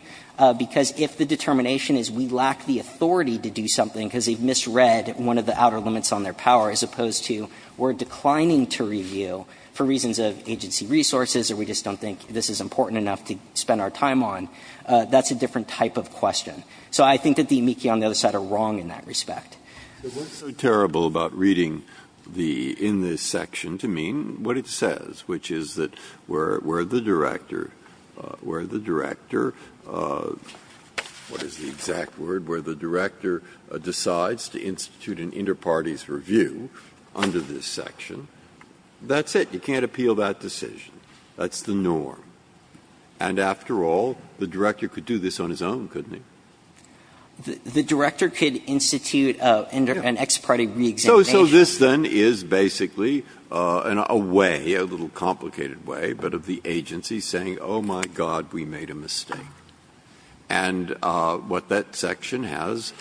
Because if the determination is we lack the authority to do something because they've misread one of the outer limits on their power, as opposed to we're declining to review for reasons of agency resources or we just don't think this is important enough to spend our time on, that's a different type of question. So I think that the amici on the other side are wrong in that respect. Breyer. So what's so terrible about reading the --"in this section," to mean what it says, which is that where the director, where the director, what is the exact word, where the director decides to institute an inter partes review under this section, that's it, you can't appeal that decision. That's the norm. And after all, the director could do this on his own, couldn't he? The director could institute an ex parte reexamination. So this, then, is basically a way, a little complicated way, but of the agency saying, oh, my God, we made a mistake. And what that section has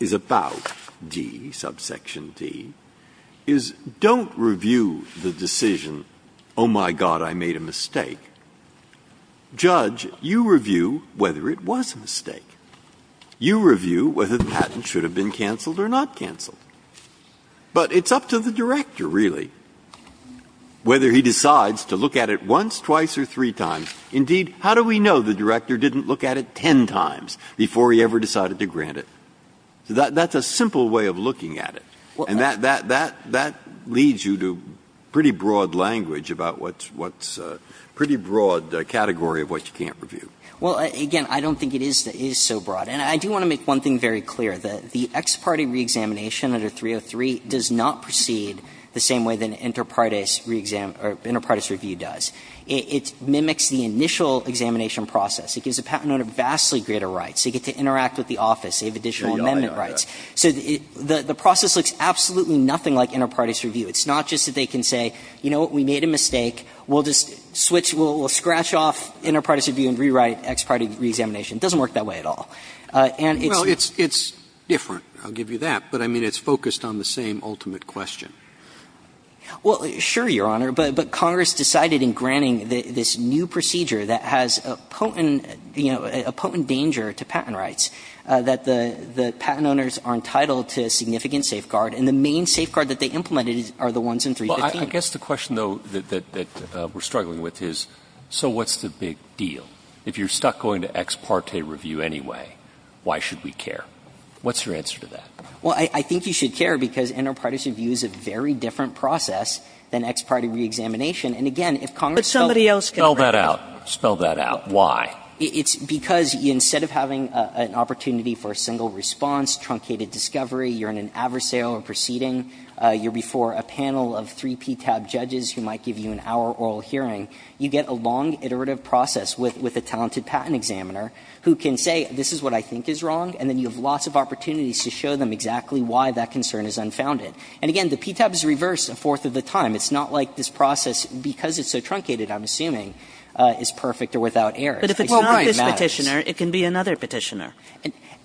is about D, subsection D, is don't review the decision, oh, my God, I made a mistake. You review whether the patent should have been canceled or not canceled. But it's up to the director, really, whether he decides to look at it once, twice or three times. Indeed, how do we know the director didn't look at it ten times before he ever decided to grant it? That's a simple way of looking at it. And that leads you to pretty broad language about what's a pretty broad category of what you can't review. Well, again, I don't think it is so broad. And I do want to make one thing very clear. The ex parte reexamination under 303 does not proceed the same way that an inter partes reexam or inter partes review does. It mimics the initial examination process. It gives a patent owner vastly greater rights. They get to interact with the office. They have additional amendment rights. So the process looks absolutely nothing like inter partes review. It's not just that they can say, you know what, we made a mistake. We'll just switch, we'll scratch off inter partes review and rewrite ex parte reexamination. It doesn't work that way at all. And it's. Well, it's different, I'll give you that. But I mean, it's focused on the same ultimate question. Well, sure, Your Honor. But Congress decided in granting this new procedure that has a potent, you know, a potent danger to patent rights, that the patent owners are entitled to significant safeguard. And the main safeguard that they implemented are the ones in 315. So I guess the question, though, that we're struggling with is, so what's the big deal? If you're stuck going to ex parte review anyway, why should we care? What's your answer to that? Well, I think you should care, because inter partes review is a very different process than ex parte reexamination. And again, if Congress felt. But somebody else can. Spell that out. Spell that out. Why? It's because instead of having an opportunity for a single response, truncated discovery, you're in an adversarial proceeding, you're before a panel of three PTAB judges who might give you an hour oral hearing, you get a long iterative process with a talented patent examiner who can say, this is what I think is wrong, and then you have lots of opportunities to show them exactly why that concern is unfounded. And again, the PTAB is reversed a fourth of the time. It's not like this process, because it's so truncated, I'm assuming, is perfect or without errors. I hope it matters. And if it's this Petitioner, it can be another Petitioner.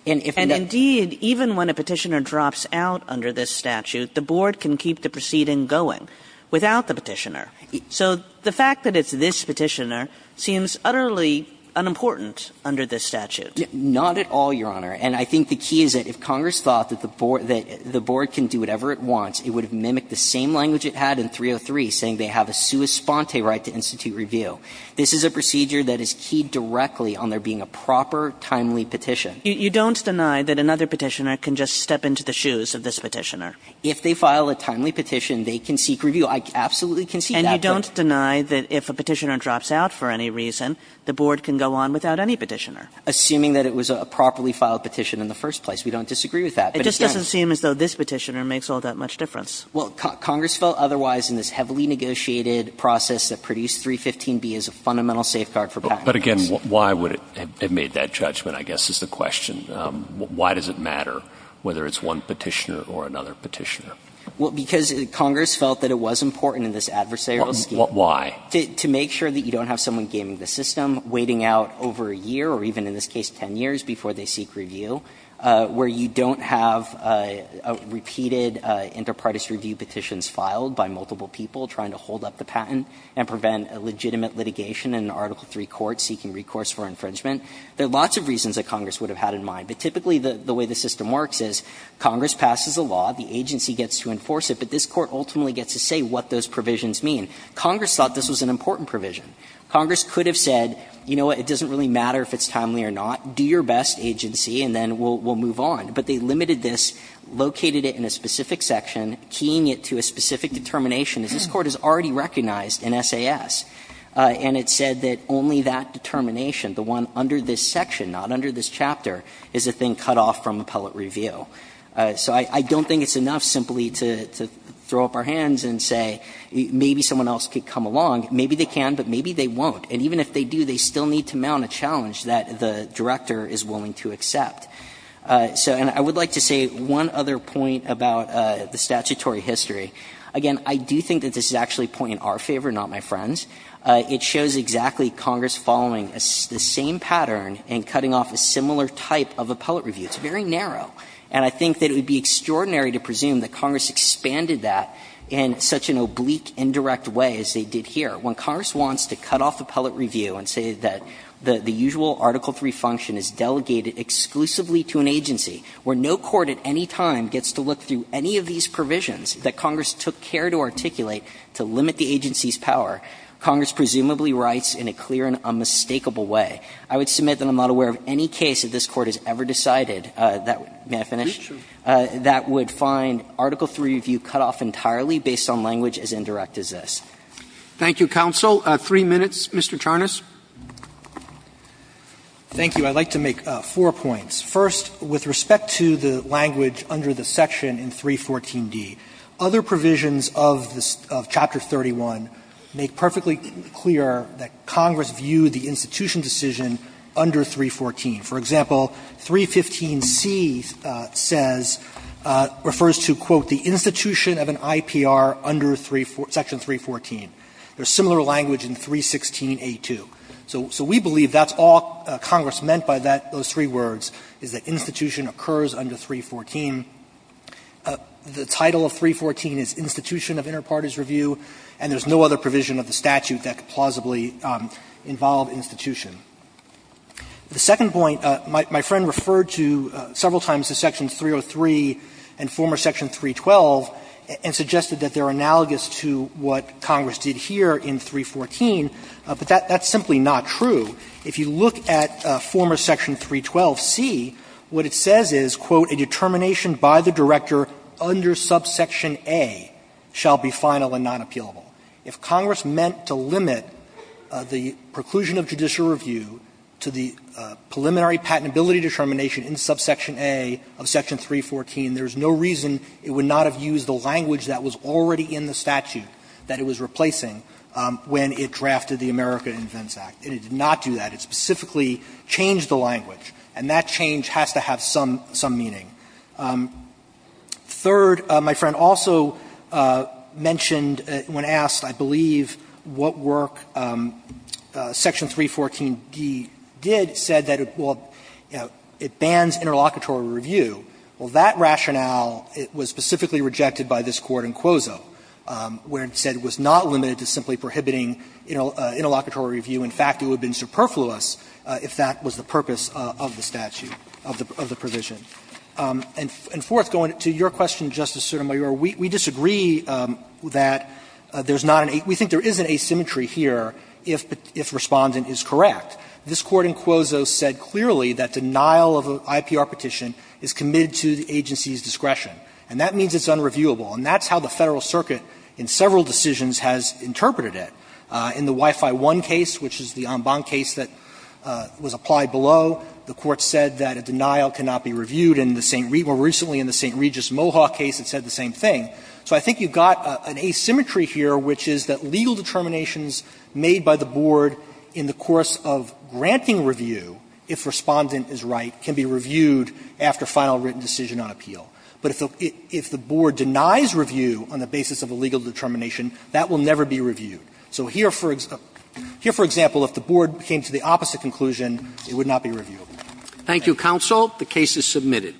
And indeed, even when a Petitioner drops out under this statute, the board can keep the proceeding going without the Petitioner. So the fact that it's this Petitioner seems utterly unimportant under this statute. Not at all, Your Honor. And I think the key is that if Congress thought that the board can do whatever it wants, it would have mimicked the same language it had in 303, saying they have a sua sponte right to institute review. This is a procedure that is keyed directly on there being a proper, timely petition. You don't deny that another Petitioner can just step into the shoes of this Petitioner? If they file a timely petition, they can seek review. I absolutely can see that. And you don't deny that if a Petitioner drops out for any reason, the board can go on without any Petitioner? Assuming that it was a properly filed petition in the first place. We don't disagree with that. It just doesn't seem as though this Petitioner makes all that much difference. Well, Congress felt otherwise in this heavily negotiated process that produced 315B as a fundamental safeguard for patent. But again, why would it have made that judgment, I guess, is the question. Why does it matter whether it's one Petitioner or another Petitioner? Well, because Congress felt that it was important in this adversarial scheme. Why? To make sure that you don't have someone gaming the system, waiting out over a year or even in this case 10 years before they seek review, where you don't have a repeated inter partes review petitions filed by multiple people trying to hold up the patent and prevent a legitimate litigation in an Article III court seeking recourse for infringement. There are lots of reasons that Congress would have had in mind. But typically the way the system works is Congress passes a law, the agency gets to enforce it, but this Court ultimately gets to say what those provisions mean. Congress thought this was an important provision. Congress could have said, you know what, it doesn't really matter if it's timely or not, do your best, agency, and then we'll move on. But they limited this, located it in a specific section, keying it to a specific determination, as this Court has already recognized in SAS. And it said that only that determination, the one under this section, not under this chapter, is a thing cut off from appellate review. So I don't think it's enough simply to throw up our hands and say maybe someone else could come along. Maybe they can, but maybe they won't. And even if they do, they still need to mount a challenge that the director is willing to accept. So and I would like to say one other point about the statutory history. Again, I do think that this is actually a point in our favor, not my friend's. It shows exactly Congress following the same pattern and cutting off a similar type of appellate review. It's very narrow. And I think that it would be extraordinary to presume that Congress expanded that in such an oblique, indirect way as they did here. When Congress wants to cut off appellate review and say that the usual Article III function is delegated exclusively to an agency, where no court at any time gets to look through any of these provisions that Congress took care to articulate to limit the agency's power, Congress presumably writes in a clear and unmistakable way. I would submit that I'm not aware of any case that this Court has ever decided that – may I finish? That would find Article III review cut off entirely based on language as indirect as this. Roberts. Thank you, counsel. Three minutes, Mr. Charnas. Thank you. I'd like to make four points. First, with respect to the language under the section in 314d, other provisions of Chapter 31 make perfectly clear that Congress viewed the institution decision under 314. For example, 315c says – refers to, quote, the institution of an IPR under section 314. There's similar language in 316a2. So we believe that's all Congress meant by that – those three words, is that institution occurs under 314. The title of 314 is institution of interparties review, and there's no other provision of the statute that could plausibly involve institution. The second point, my friend referred to several times the section 303 and former section 312 and suggested that they're analogous to what Congress did here in 314, but that's simply not true. If you look at former section 312c, what it says is, quote, a determination by the director under subsection A shall be final and non-appealable. If Congress meant to limit the preclusion of judicial review to the preliminary patentability determination in subsection A of section 314, there's no reason it would not have used the language that was already in the statute that it was replacing when it drafted the America Invents Act. And it did not do that. It specifically changed the language, and that change has to have some – some meaning. Third, my friend also mentioned when asked, I believe, what work section 314d did, said that, well, you know, it bans interlocutory review. Well, that rationale was specifically rejected by this Court in Quozo, where it said it was not limited to simply prohibiting interlocutory review. In fact, it would have been superfluous if that was the purpose of the statute, of the provision. And fourth, going to your question, Justice Sotomayor, we disagree that there's not an – we think there is an asymmetry here if respondent is correct. This Court in Quozo said clearly that denial of an IPR petition is committed to the agency's discretion, and that means it's unreviewable. And that's how the Federal Circuit in several decisions has interpreted it. In the Wi-Fi One case, which is the en banc case that was applied below, the Court said that a denial cannot be reviewed. And in the St. – more recently in the St. Regis Mohawk case, it said the same thing. So I think you've got an asymmetry here, which is that legal determinations made by the Board in the course of granting review, if respondent is right, can be reviewed after final written decision on appeal. But if the Board denies review on the basis of a legal determination, that will never be reviewed. So here, for example, if the Board came to the opposite conclusion, it would not be reviewable. Roberts. Thank you, counsel. The case is submitted.